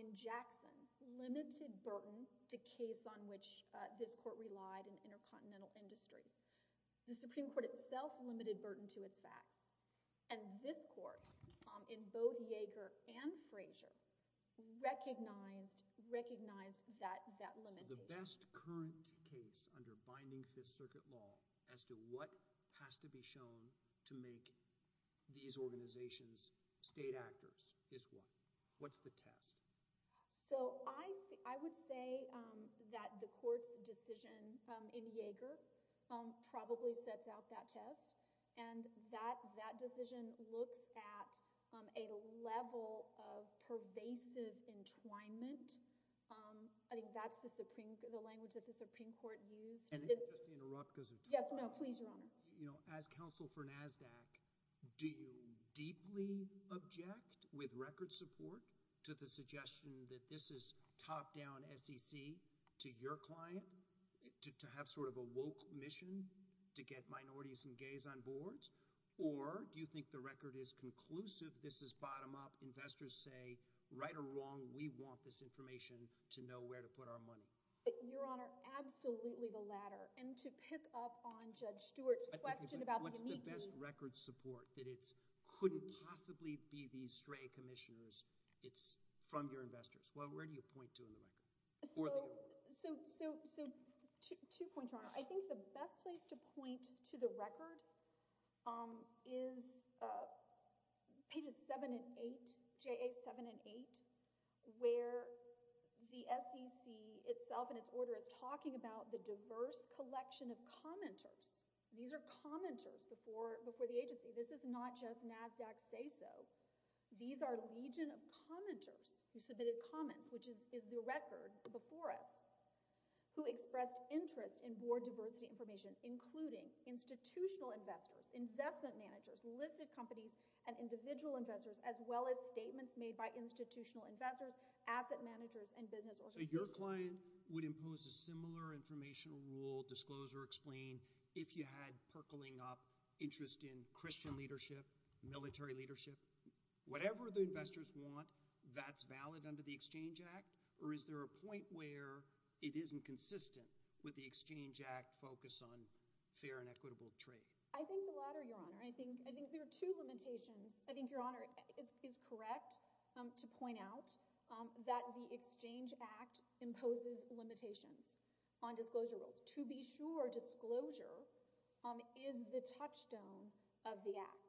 in Jackson limited burden to case on which this court relied in intercontinental industry. The Supreme Court itself limited burden to its facts. And this court, in both Yeager and Frazier, recognized that limitation. The best current case under binding Fifth Circuit law as to what has to be shown to make these organizations state actors is what? What's the test? So I would say that the court's decision in Yeager probably sets out that test. And that decision looks at a level of pervasive entwinement. I think that's the language that the Supreme Court used. Can I just interrupt? Yes, no, please, Your Honor. As counsel for NASDAQ, do you deeply object with record support to the suggestion that this is top-down SEC to your client to have sort of a woke mission to get minorities and gays on boards? Or do you think the record is conclusive? This is bottom-up. Investors say, right or wrong, we want this information to know where to put our money. Your Honor, absolutely the latter. And to pick up on Judge Stewart's question about the unique— Yes. —best record support, that it couldn't possibly be these stray commissioners, it's from your investors. Well, where do you point to in the record? So two points, Your Honor. I think the best place to point to the record is pages 7 and 8, J8, 7 and 8, where the SEC itself and its order is talking about the diverse collection of commenters. These are commenters before the agency. This is not just NASDAQ's say-so. These are legion of commenters who submitted comments, which is the record before us, who expressed interest in board diversity information, including institutional investors, investment managers, listed companies, and individual investors, as well as statements made by institutional investors, asset managers, and business owners. So your client would impose a similar informational rule, disclose or explain, if you had percolating up interest in Christian leadership, military leadership. Whatever the investors want, that's valid under the Exchange Act? Or is there a point where it isn't consistent with the Exchange Act focus on fair and equitable trade? I think the latter, Your Honor. I think there are two limitations. I think, the Exchange Act imposes limitations on disclosure rules. To be sure, disclosure is the touchstone of the Act.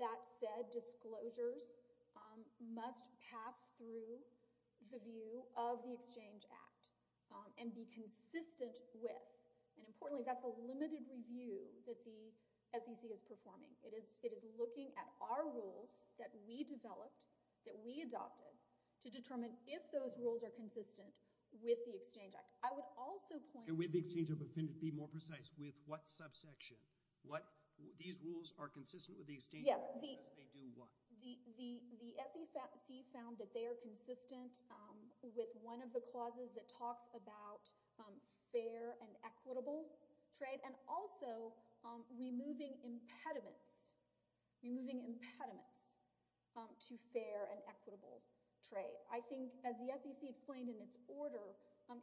That said, disclosures must pass through the view of the Exchange Act and be consistent with, and importantly, that's a limited review that the SEC is performing. It is if those rules are consistent with the Exchange Act. I would also point- And with the Exchange Act, but then to be more precise, with what subsection? These rules are consistent with the Exchange Act, but they do what? The SEC found that they are consistent with one of the clauses that talks about fair and equitable trade and also removing impediments to fair and equitable trade. I think as the SEC explained in its order,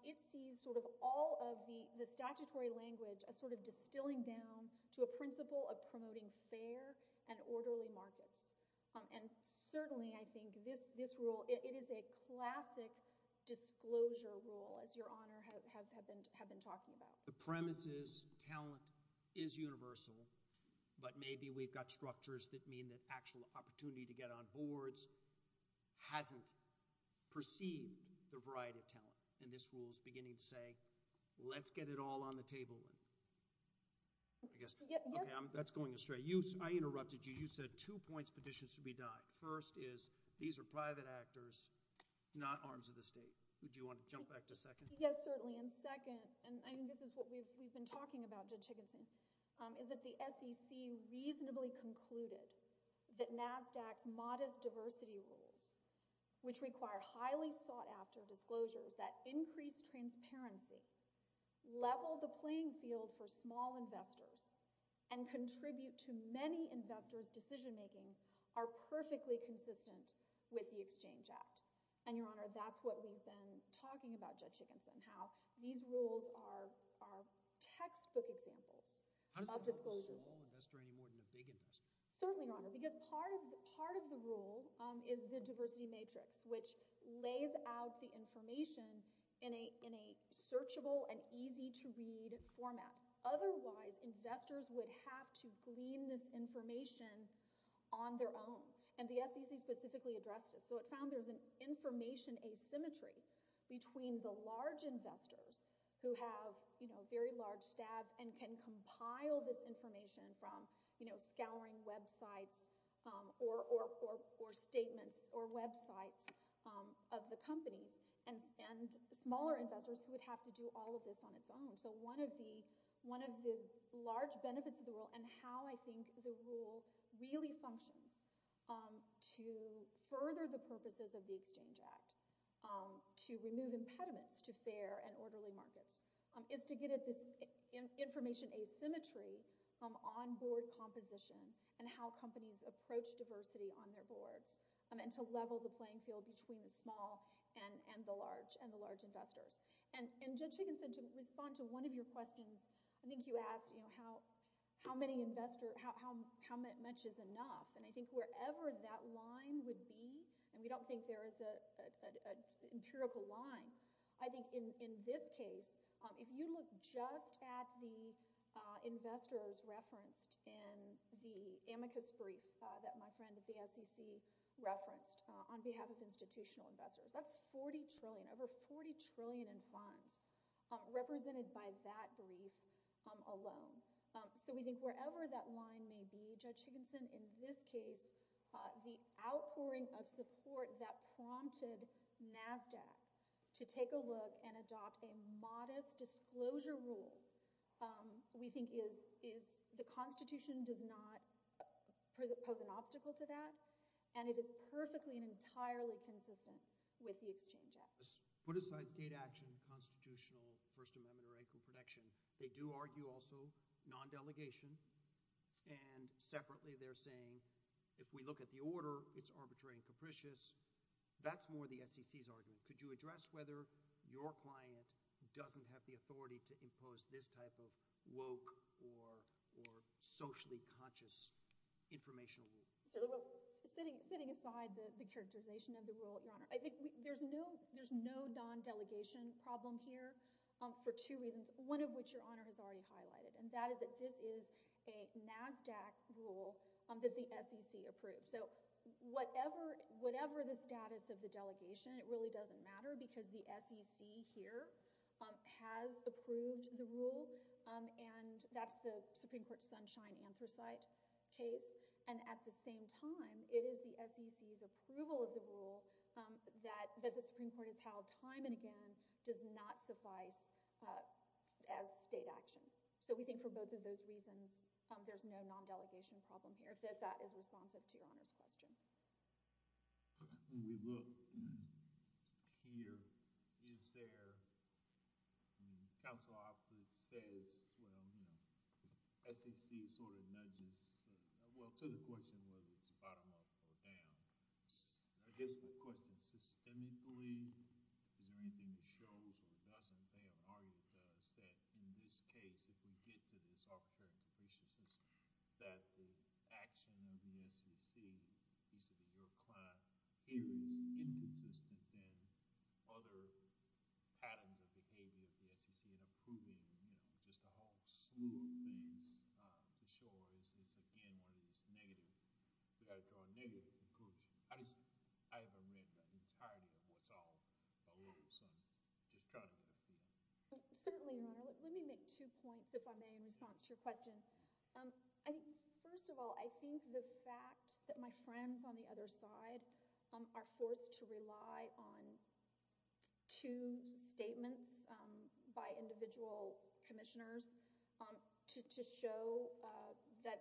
it sees all of the statutory language as distilling down to a principle of promoting fair and orderly markets. Certainly, I think this rule, it is a classic disclosure rule, as Your Honor has been talking about. The premise is talent is universal, but maybe we've got structures that mean that actual opportunity to get on boards hadn't perceived the variety of talent. This rule is beginning to say, let's get it all on the table. That's going astray. I interrupted you. You said two points petitions should be docked. First is, these are private actors, not arms of the state. Would you want to jump back to second? Yes, certainly. Second, and I think this is what we've been talking about, Judge Chickenson, is that the SEC reasonably concluded that NASDAQ's modest diversity rules, which require highly sought-after disclosures that increase transparency, level the playing field for small investors, and contribute to many investors' decision-making, are perfectly consistent with the Exchange Act. Your Honor, that's what we've been talking about, how these rules are textbook examples of disclosures. How does it work for a small investor any more than a big investor? Certainly, Your Honor, because part of the rule is the diversity matrix, which lays out the information in a searchable and easy-to-read format. Otherwise, investors would have to glean this information on their own, and the SEC specifically addressed this. It found there's an information asymmetry between the large investors who have very large staff and can compile this information from scouring websites or statements or websites of the company, and smaller investors who would have to do all of this on its own. One of the large benefits of the rule and how I think the rule really functions to further the purposes of the Exchange Act, to remove impediments to fair and orderly markets, is to get at this information asymmetry from on-board composition and how companies approach diversity on their board, and to level the playing field between the small and the large investors. And, Judge how many investors, how much is enough? And I think wherever that line would be, and we don't think there is an empirical line, I think in this case, if you look just at the investors referenced in the amicus brief that my friend at the SEC referenced on behalf of institutional investors, that's 40 trillion, over 40 trillion in funds represented by that brief alone. So we think wherever that line may be, Judge Higginson, in this case, the outpouring of support that prompted NASDAQ to take a look and adopt a modest disclosure rule, we think the Constitution does not pose an obstacle to that, and it is perfectly and entirely consistent with the Exchange Act. Put aside data action, constitutional, First Amendment, or equal protection, they do argue also non-delegation, and separately they're saying if we look at the order, it's arbitrary and capricious, that's more the SEC's argument. Could you address whether your client doesn't have the authority to So sitting aside the characterization of the rule, Your Honor, I think there's no non-delegation problem here for two reasons, one of which Your Honor has already highlighted, and that is that this is a NASDAQ rule that the SEC approved. So whatever the status of the delegation, it really doesn't matter because the SEC here has approved the rule, and that's the same time, it is the SEC's approval of the rule that the Supreme Court has held time and again does not suffice as state action. So we think for both of those reasons, there's no non-delegation problem here. So if that is responsive to Your Honor's question. When we look here, is there, the counsel officer says, well, you know, the SEC sort of nudges, well to the question whether it's bottom up or down. Is the question systemically, is there anything that shows or doesn't, they have already said in this case, if we get to the Sovereignty and Preciousness, that the action of the SEC, at least if it's your client, is inconsistent in other patterns of behavior that you see in approving, you know, just a whole slew of things. For sure, it's just again, whether it's negative, you've got to draw a negative approving. I just, I haven't made that entirety of what's all over the place. I'm just trying to answer your question. First of all, I think the fact that my friends on the other side are forced to rely on two statements by individual commissioners to show that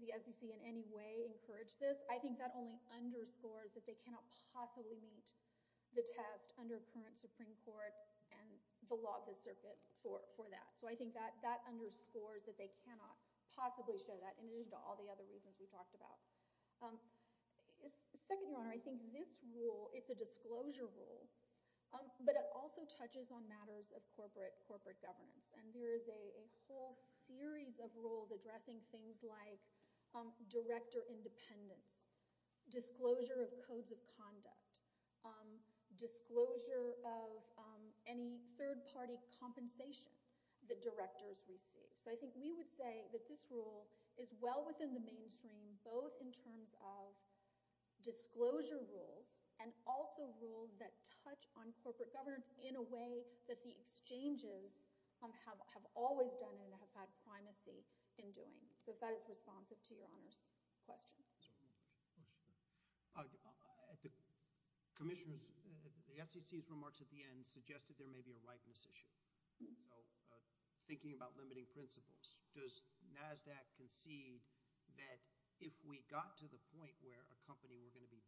the SEC in any way encouraged this, I think that only underscores that they cannot possibly meet the test under current Supreme Court and the law of the circuit for that. So I think that that underscores that they cannot possibly show that, in addition to all the other reasons we've talked about. Second Your Honor, I think this rule, it's a disclosure rule, but it also touches on matters of corporate governance. And there is a whole series of rules addressing things like director independence, disclosure of codes of conduct, disclosure of any third-party compensation that directors receive. So I think we would say that this rule is well within the mainstream, both in terms of disclosure rules and also rules that touch on corporate governance in a way that the exchanges have always done and have had primacy in doing. So if that is responsive to Your Honor's question. Commissioners, the SEC's remarks at the end suggested there may be a likeness issue. Thinking about limiting principles, does NASDAQ concede that if we got to the point where a company were going to be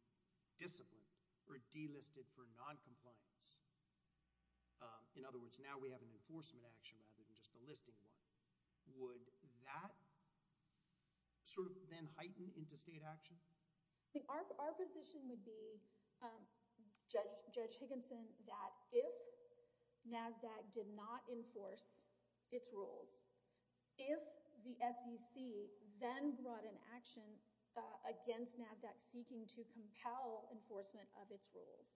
disciplined or delisted for non-compliance, in other words, now we have an enforcement action rather than just a listing one, would that sort of then heighten into state action? Our position would be, Judge Higginson, that if NASDAQ did not enforce its rules, if the SEC then brought an action against NASDAQ seeking to compel enforcement of its rules,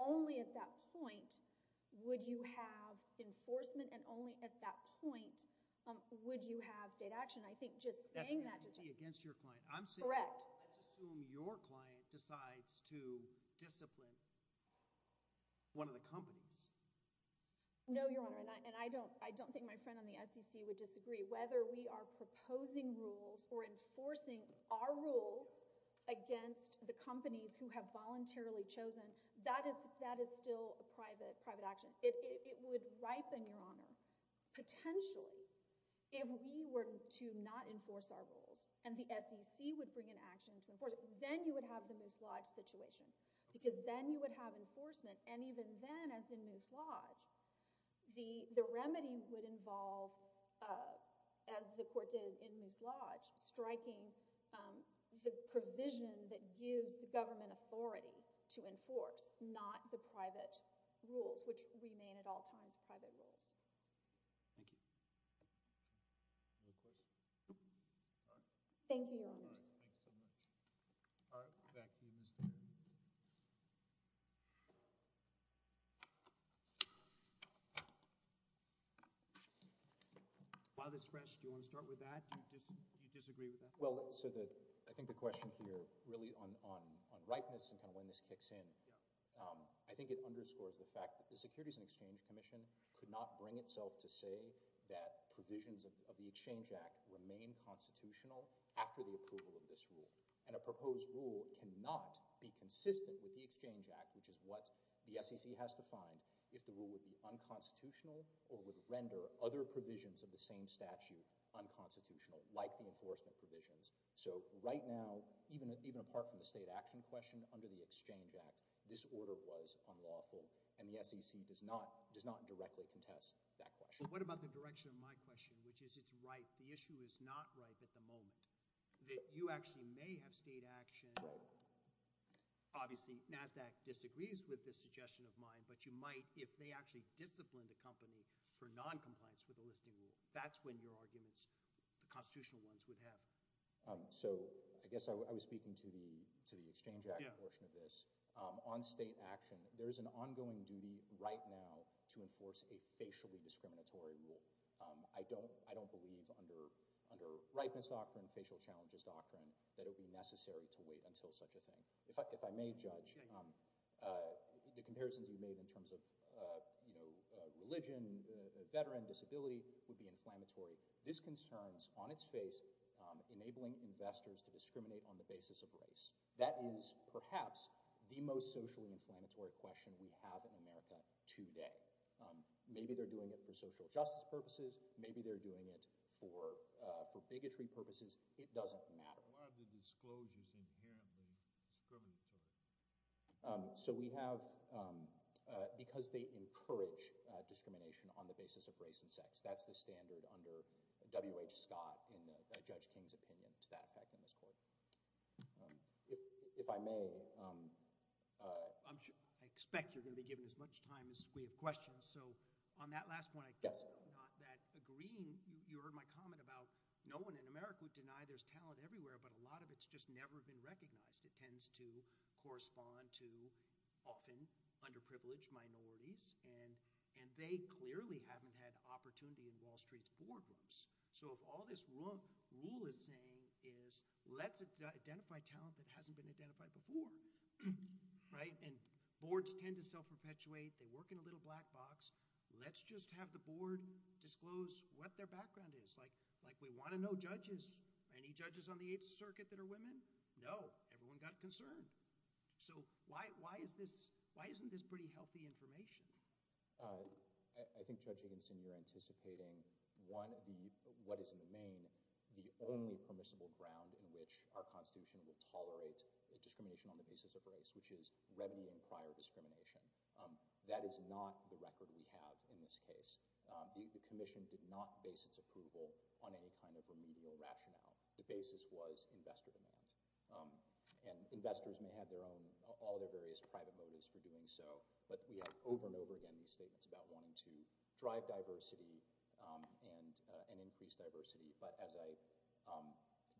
only at that point would you have enforcement and only at that point would you have state action. I think just saying that... The SEC against your client. I'm saying that let's assume your client decides to discipline one of the companies. No, Your Honor, and I don't think my friend on the SEC would disagree. Whether we are proposing rules or enforcing our rules against the companies who have voluntarily chosen, that is still a private action. It would ripen, Your Honor. Potentially, if we were to not enforce our rules and the SEC would bring an action to enforce it, then you would have the mislodge situation because then you would have enforcement, and even then, as in mislodge, the remedy would involve, as the Court did in mislodge, striking the provision that gives the government authority to enforce, not the private rules, which remain at all times private rules. Thank you. Thank you, Your Honor. All right, we'll go back to you, Mr. Bennett. Father Sresh, do you want to start with that? Do you disagree with that? Well, I think the question here really on ripeness and when this kicks in, I think it underscores the fact that the Securities and Exchange Commission could not bring itself to say that provisions of the Exchange Act remain constitutional after the approval of this rule, and a proposed rule cannot be consistent with the Exchange Act, which is what the SEC has defined, if the rule would be unconstitutional or would render other provisions of the same statute unconstitutional, like the enforcement provisions. So right now, even apart from the state action question, under the Exchange Act, this order was unlawful, and the SEC does not directly contest that question. What about the direction of my question, which is it's ripe? The issue is not ripe at the moment, that you actually may have state action, obviously, not that disagrees with the suggestion of mine, but you might, if they actually disciplined the company for noncompliance with the Listing Rule, that's when your arguments, the constitutional ones, would happen. So I guess I was speaking to the Exchange Act portion of this. On state action, there's an inflammatory rule. I don't believe under ripeness doctrine, facial challenges doctrine, that it would be necessary to wait until such a thing. In fact, if I may judge, the comparisons you made in terms of religion, the veteran disability would be inflammatory. This concerns, on its face, enabling investors to discriminate on the basis of race. That is perhaps the most socially inflammatory question we have in America today. Maybe they're doing it for social justice purposes. Maybe they're doing it for bigotry purposes. It doesn't matter. Why are the disclosures inherently discriminatory? So we have, because they encourage discrimination on the basis of race and sex. That's the standard under W. H. Scott in Judge King's opinion, it's that fact in this court. If I may... I'm sure, I expect you're going to be given as much time as we have questions, so on that last point, agreeing, you heard my comment about no one in America would deny there's talent everywhere, but a lot of it's just never been recognized. It tends to correspond to often underprivileged minorities, and they clearly haven't had opportunity in Wall Street's board rooms. So if all this rule is saying is, let's identify talent that hasn't been identified before, right? And boards tend to self-perpetuate. They work in a little black box. Let's just have the board disclose what their background is. Like, we want to know judges. Any judges on the 8th Circuit that are women? No. Everyone got a concern. So why isn't this pretty healthy information? I think, Judge Higginson, you're anticipating one of the, what is in Maine, the only permissible ground in which our Constitution would tolerate discrimination on the basis of race, which is readily in prior discrimination. That is not the record we have in this case. The commission did not base its approval on any kind of remedial rationale. The basis was investor demand, and investors may have their own, all their various private motives for doing so, but we have over and over again these statements about wanting to drive diversity and increase diversity. But as I,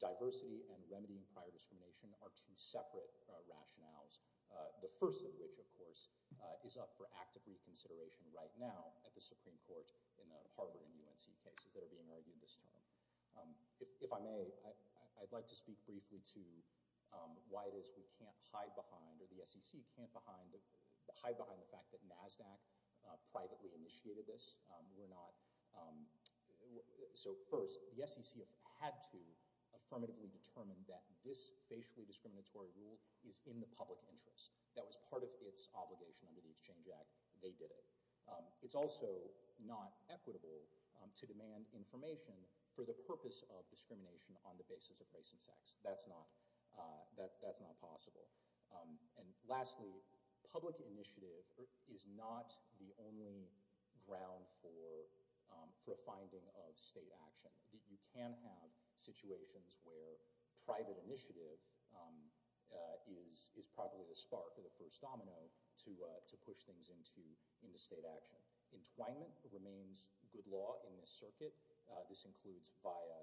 diversity and remedying prior discrimination are two separate rationales, the first of which, of course, is up for active reconsideration right now at the Supreme Court in the Harvard and UNC cases that are being argued at this time. If I may, I'd like to speak briefly to why it is we can't hide behind, or the SEC can't hide behind the fact that NASDAQ privately initiated this. We're not, so first, the SEC had to affirmatively determine that this facially discriminatory rule is in the public interest. That was part of its obligation under the Exchange Act. They did it. It's also not equitable to demand information for the purpose of discrimination on the basis of race and sex. That's not, that's not possible. And lastly, public initiative is not the only ground for a finding of state action. You can have situations where private initiative is probably the spark or the first domino to push things into state action. Entwinement remains good law in this circuit. This includes via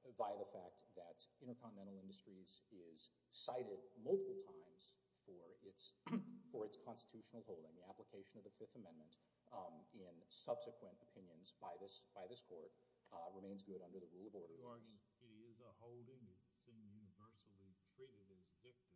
the fact that Intercontinental Industries is cited multiple times for its constitutional holding. The application of the Fifth Amendment in subsequent opinions by this court remains good under the rule of order. So, are you saying the holding is universally treated as victim?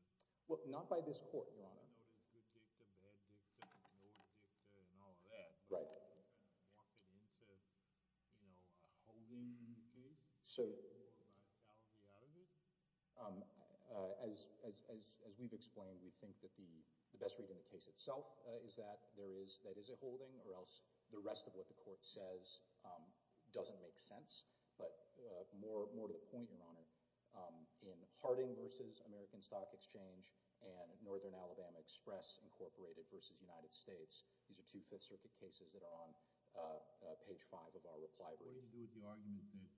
As we've explained, we think that the best read in the case itself is that there is, that is a holding, or else the rest of what the court says doesn't make sense. But more to point out, in Harding v. American Stock Exchange and Northern Alabama Express Incorporated v. United States, these are two Fifth Circuit cases that are on page five of our reply brief. What do you do with the argument that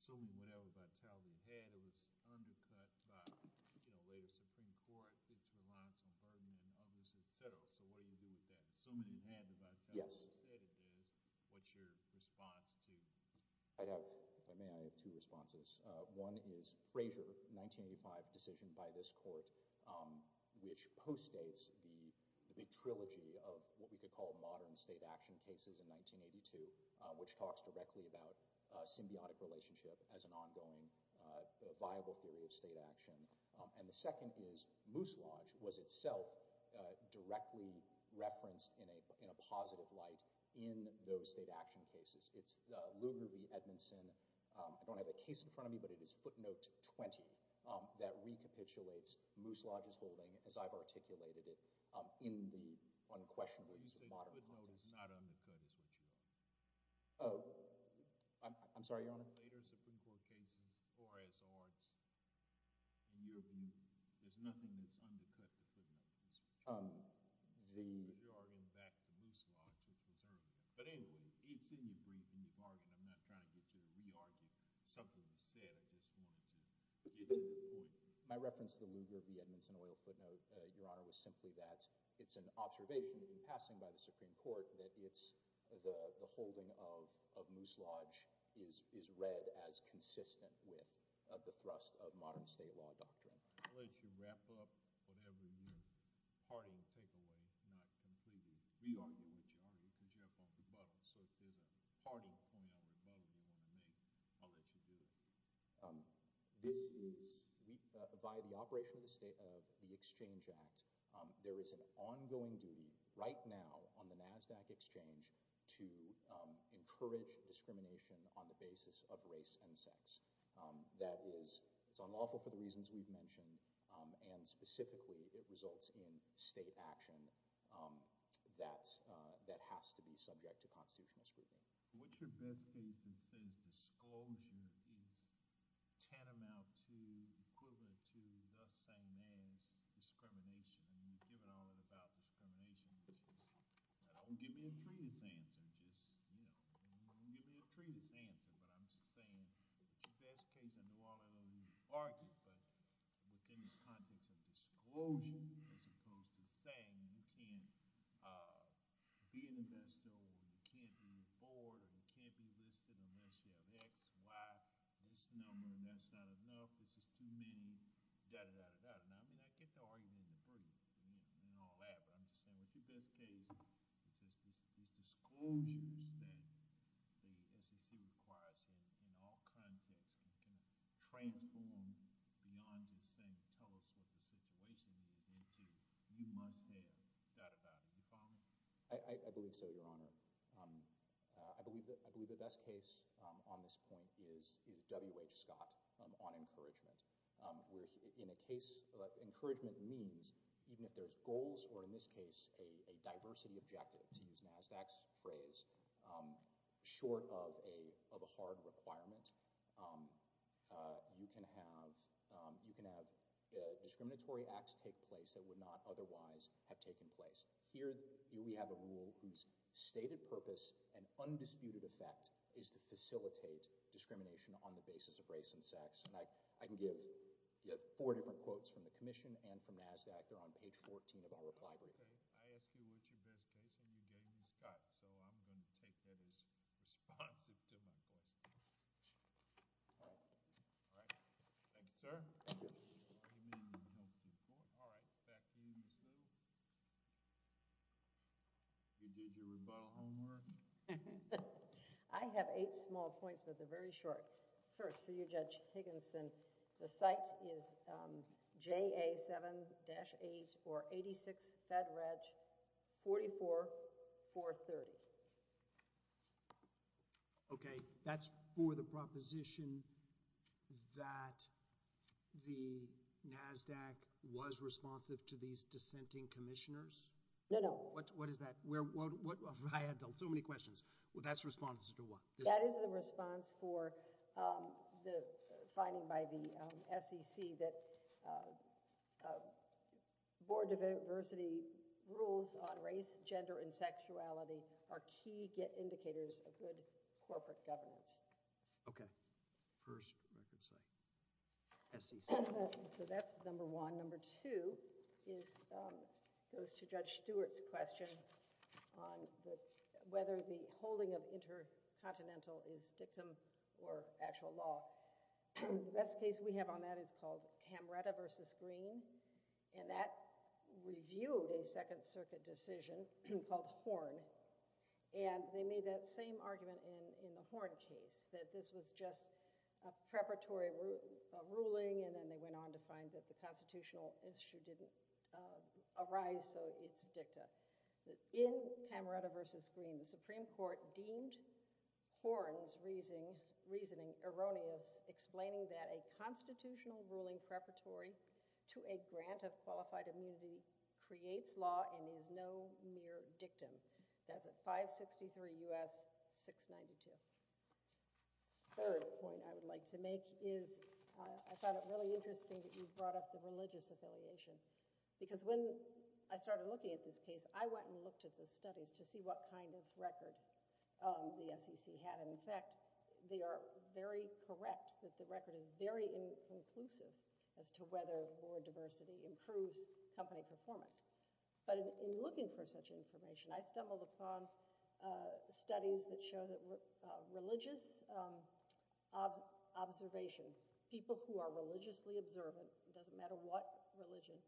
so many male vitality had, it was undercut by, you know, later Supreme Court, which relied on some burden, and obviously the federal. So, what do you do with that? Assuming you had the vitality instead of this, what's your response to? I have, if I may, I have two responses. One is Frazier, 1985 decision by this court, which postdates the big trilogy of what we could call modern state action cases in 1982, which talks directly about a symbiotic relationship as an ongoing, viable theory of state action. And the second is Looselodge was itself directly referenced in a positive light in those state action cases. It's Lugar v. Edmondson. I don't have a case in front of me, but it is footnote 20 that recapitulates Looselodge's holding, as I've articulated it, in the unquestionable use of modern law. You say footnote is not undercut, is what you're saying? Oh, I'm sorry, Your Honor? Later Supreme Court cases, or as or, in your view, there's nothing that's undercut the footnote. The... Your Honor, in fact, Looselodge was preserved. But anyway, he didn't bring up Looselodge, and I'm not trying to get you to re-argue something he said at this point. My reference to Lugar v. Edmondson oil footnote, Your Honor, was simply that it's an observation that's been passed on by the Supreme Court that it's, the holding of Looselodge is read as consistent with the thrust of modern state law doctrine. I'll let you wrap up, or there will be a new parting takeaway, if not completely re-arguing what you're arguing, because you're at the bottom. So if there's a parting point on the bottom, you want to make, I'll let you do it. This is, we provide the operational state of the Exchange Act. There is an ongoing duty right now on the NASDAQ exchange to encourage discrimination on the basis of race and sex. That is, it's unlawful for the reasons we've mentioned, and specifically, it results in state action that has to be subject to constitutional scrutiny. What's your best case is that it's disclosure that is tantamount to, equivalent to, the same as discrimination. You've given a lot about discrimination, and I won't give you a previous answer, just, you know, I won't give you a previous answer, but I'm just saying, it's the best case in the world that we've argued, but within the context of disclosure, as opposed to saying you can't, uh, be in the pedestal, you can't move forward, you can't be listed on that sheet of X, Y, this number, and that's not enough, this is too many, da-da-da-da-da-da. I mean, I get the argument in all that, but I'm just saying, in the best case, it's this disclosure that the SEC requires in all contexts, it can transform beyond just saying, tell us what the situation is, and you must have that about you, you follow me? I believe so, Your Honor. I believe the best case, um, on this point is W. H. Scott, um, on encouragement, um, where he, in a case, uh, encouragement means, even if there's goals, or in this case, a, a diversity objective, to use NASDAQ's phrase, um, short of a, of a hard requirement, um, uh, you can have, um, you can have, uh, discriminatory acts take place that would not otherwise have taken place. Here, here we have a rule whose stated purpose and undisputed effect is to facilitate discrimination on the basis of race and sex, and I, I can give, you have four different quotes from the Commission and from NASDAQ. They're on page 14 of all of the library. I asked you what's your best case, and you gave me Scott, so I'm going to take that as responsive to my question. All right. All right. Thank you, sir. Thank you. All right. Back to you, Ms. Little. You did your rebuttal homework. I have eight small points that are very short. First, to you, Judge Higginson, the site is, um, JA 7-8486, Fed Reg, 44430. Okay. That's for the proposition that the NASDAQ was responsive to these dissenting commissioners? No, no. What, what is that? We're, what, what, I have so many questions. Well, that's responsive to what? That is the response for, um, the finding by the, um, SEC that, um, uh, board diversity rules on race, gender, and sexuality are key indicators of good corporate governance. Okay. First, I could say, SEC. So that's number one. Number two is, um, goes to Judge Stewart's question on whether the holding of intercontinental is dictum or actual law. The best case we have on that is called Hamretta versus Green, and that reviewed a Second Circuit decision called Ford, and they made that same argument in, in the Ford case, that this was just a preparatory ruling, and then they went on to find that the constitutional issue didn't, um, arise, so it's dicta. In Hamretta versus Green, the Supreme Court deemed Horne's reasoning, reasoning erroneous, explaining that a constitutional ruling preparatory to a grant of qualified immunity creates law and is no mere dictum. That's at 563 U.S. 692. Third point I would like to make is, I thought it really interesting that you brought up the religious affiliation, because when I went and looked at the studies to see what kind of records, um, the SEC had, and in fact, they are very correct that the record is very inclusive as to whether more diversity improves company performance. But in looking for such information, I stumbled upon, uh, studies that show that religious, um, observations, people who are religiously observant, it doesn't matter what religion,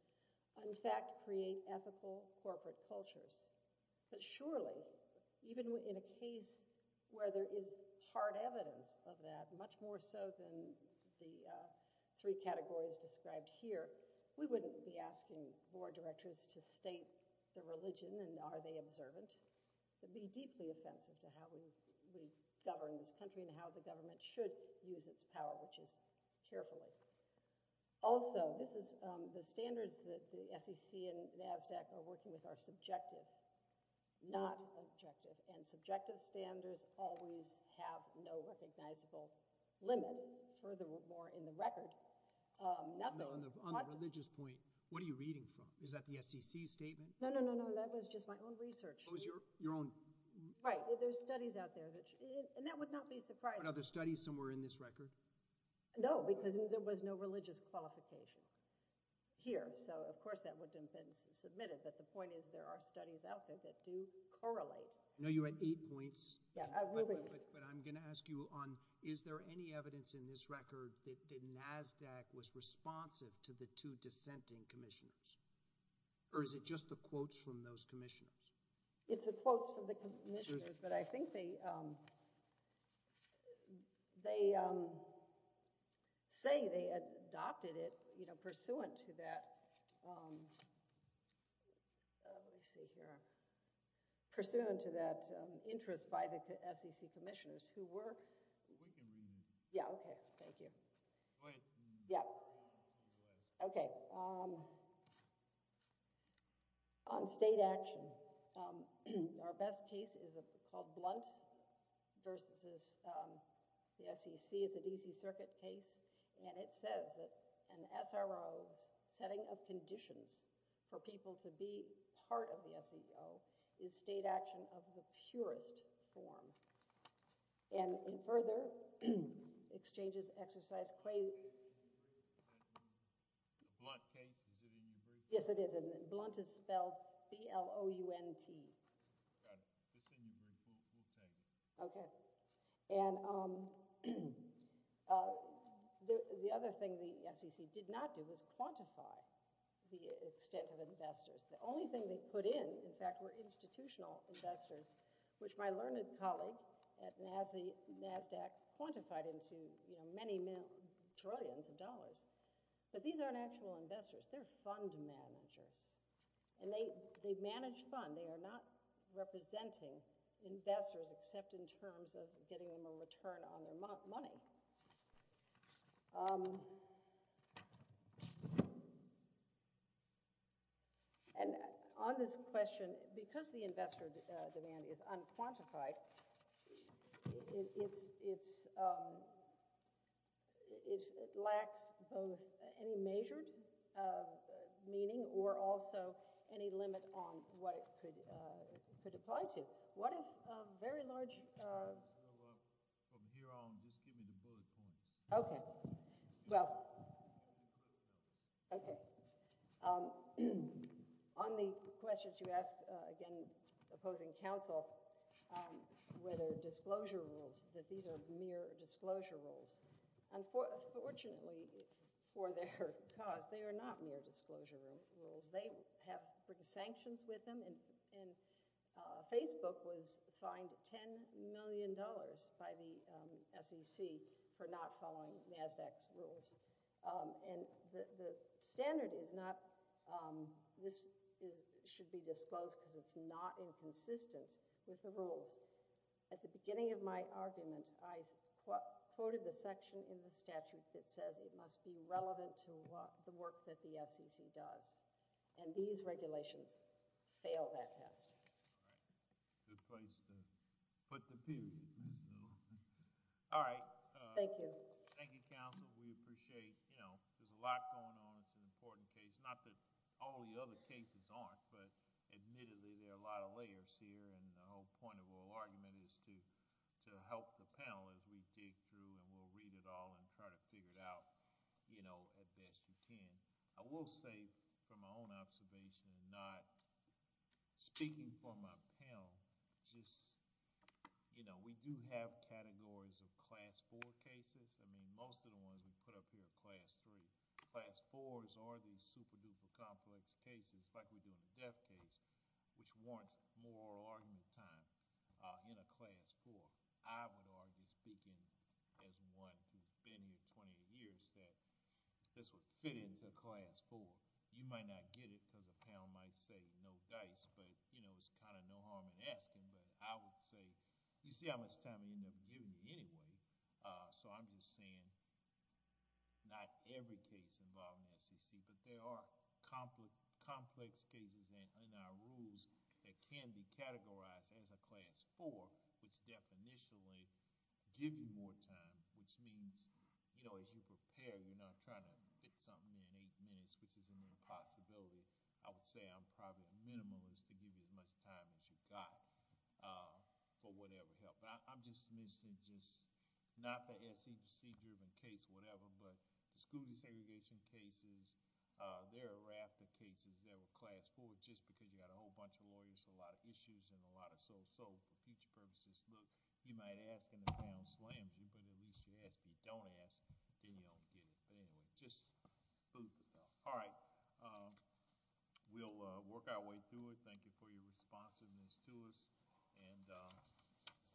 in fact, create ethical corporate cultures. But surely, even in a case where there is hard evidence of that, much more so than the, uh, three categories described here, we wouldn't be asking board directors to state their religion and are they observant. It would be deeply offensive to how we, we govern this country and how the government should use its power, which is carefully. Also, this is, um, the standards that the SEC and NAVSAC are working with are subjective, not objective, and subjective standards always have no recognizable limit. Furthermore, in the record, um, nothing. On the religious point, what are you reading from? Is that the SEC statement? No, no, no, no, that was just my own research. It was your, your own? Right, well, there's studies out there that, and that would not be surprising. Are there studies somewhere in this religious qualification here? So, of course, that would have been submitted, but the point is, there are studies out there that do correlate. I know you had eight points. Yeah, I really did. But I'm going to ask you on, is there any evidence in this record that NAVSAC was responsive to the two dissenting commissioners? Or is it just the quotes from those commissioners? It's the quotes from the commissioners, but I think they, um, they, um, say they adopted it, you know, pursuant to that, um, let me see here, pursuant to that, um, interest by the SEC commissioners who were, we can, yeah, okay, thank you. Go ahead. Yeah, okay, um, on state action, um, our best case is called Blunt versus, um, the SEC, it's an easy circuit case, and it says that an SRO's setting of conditions for people to be part of the SEO is state action of the purest form, and in further exchanges, exercise, claims, yes, it is, and Blunt is spelled C-L-O-U-N-T. Okay, and, um, uh, the, the other thing the SEC did not do was quantify the extent of investors. The only thing they put in, in fact, were institutional investors, which my learned colleague at NASDAQ quantified into, you know, many millions, trillions of dollars, but these aren't actual investors, they're fund managers, and they, they manage funds, they are not representing investors, except in terms of getting them a return on their money. Um, and on this question, because the investor demand is unquantified, it, it, it, it, um, it, it lacks both any measured, uh, meaning, or also any limit on what it could, uh, could apply to. What is, uh, very large, uh, okay, well, okay, um, on the questions you asked, uh, again, opposing counsel, um, whether disclosure rules, that these are mere disclosure rules, and for, fortunately, for their cause, they are not mere disclosure rules, they have sanctions with them, and, and, uh, Facebook was fined 10 million dollars by the, um, SEC for not following NASDAQ's rules. Um, and the, the standard is not, um, this is, should be disclosed because it's not inconsistent with the rules. At the beginning of my argument, I quoted the section in the statute that says it must be relevant to what, the work that the SEC does, and these regulations fail that test. All right, good place to put the piece. All right. Thank you. Thank you, counsel, we appreciate, you know, there's a lot going on, it's an important case, not that all the other cases aren't, but admittedly, there are a lot of layers here, and the whole point of our argument is to, to help the panel as we dig through and we'll read it all and try to figure it out, you know, as best we can. I will say, from my own observation, not speaking for my panel, just, you know, we do have categories of class 4 cases, I mean, most of the ones we put up here are class 3. Class 4s are these super duper complex cases, like we do in the death case, which warrants more argument time, uh, class 4. I would argue, speaking as one who's been here 20 years, that this would fit into class 4. You might not get it because the panel might say no dice, but, you know, it's kind of no harm in asking, but I would say, you see how much time you never give me anyway, uh, so I'm just saying, not every case involved in the SEC, but there are complex, complex cases in our rules that can be categorized as a class 4, which definitionally give you more time, which means, you know, as you prepare, you're not trying to hit something you need to miss because it's an impossibility. I would say I'm probably the minimalist to give you as much time as you got, uh, for whatever help. I'm just missing, just, not the SEC-driven case, whatever, but the school desegregation cases, uh, they're a raft of cases that were class 4 just because you got a whole bunch of lawyers, a lot of issues, and a lot of so-so for future purposes. Look, you may ask anything on SLAM, but at least you ask. If you don't ask, then you don't get it anyway. Just food for thought. All right, um, we'll, uh, work our way through it. Thank you for your responsiveness to us, and, uh, there you go.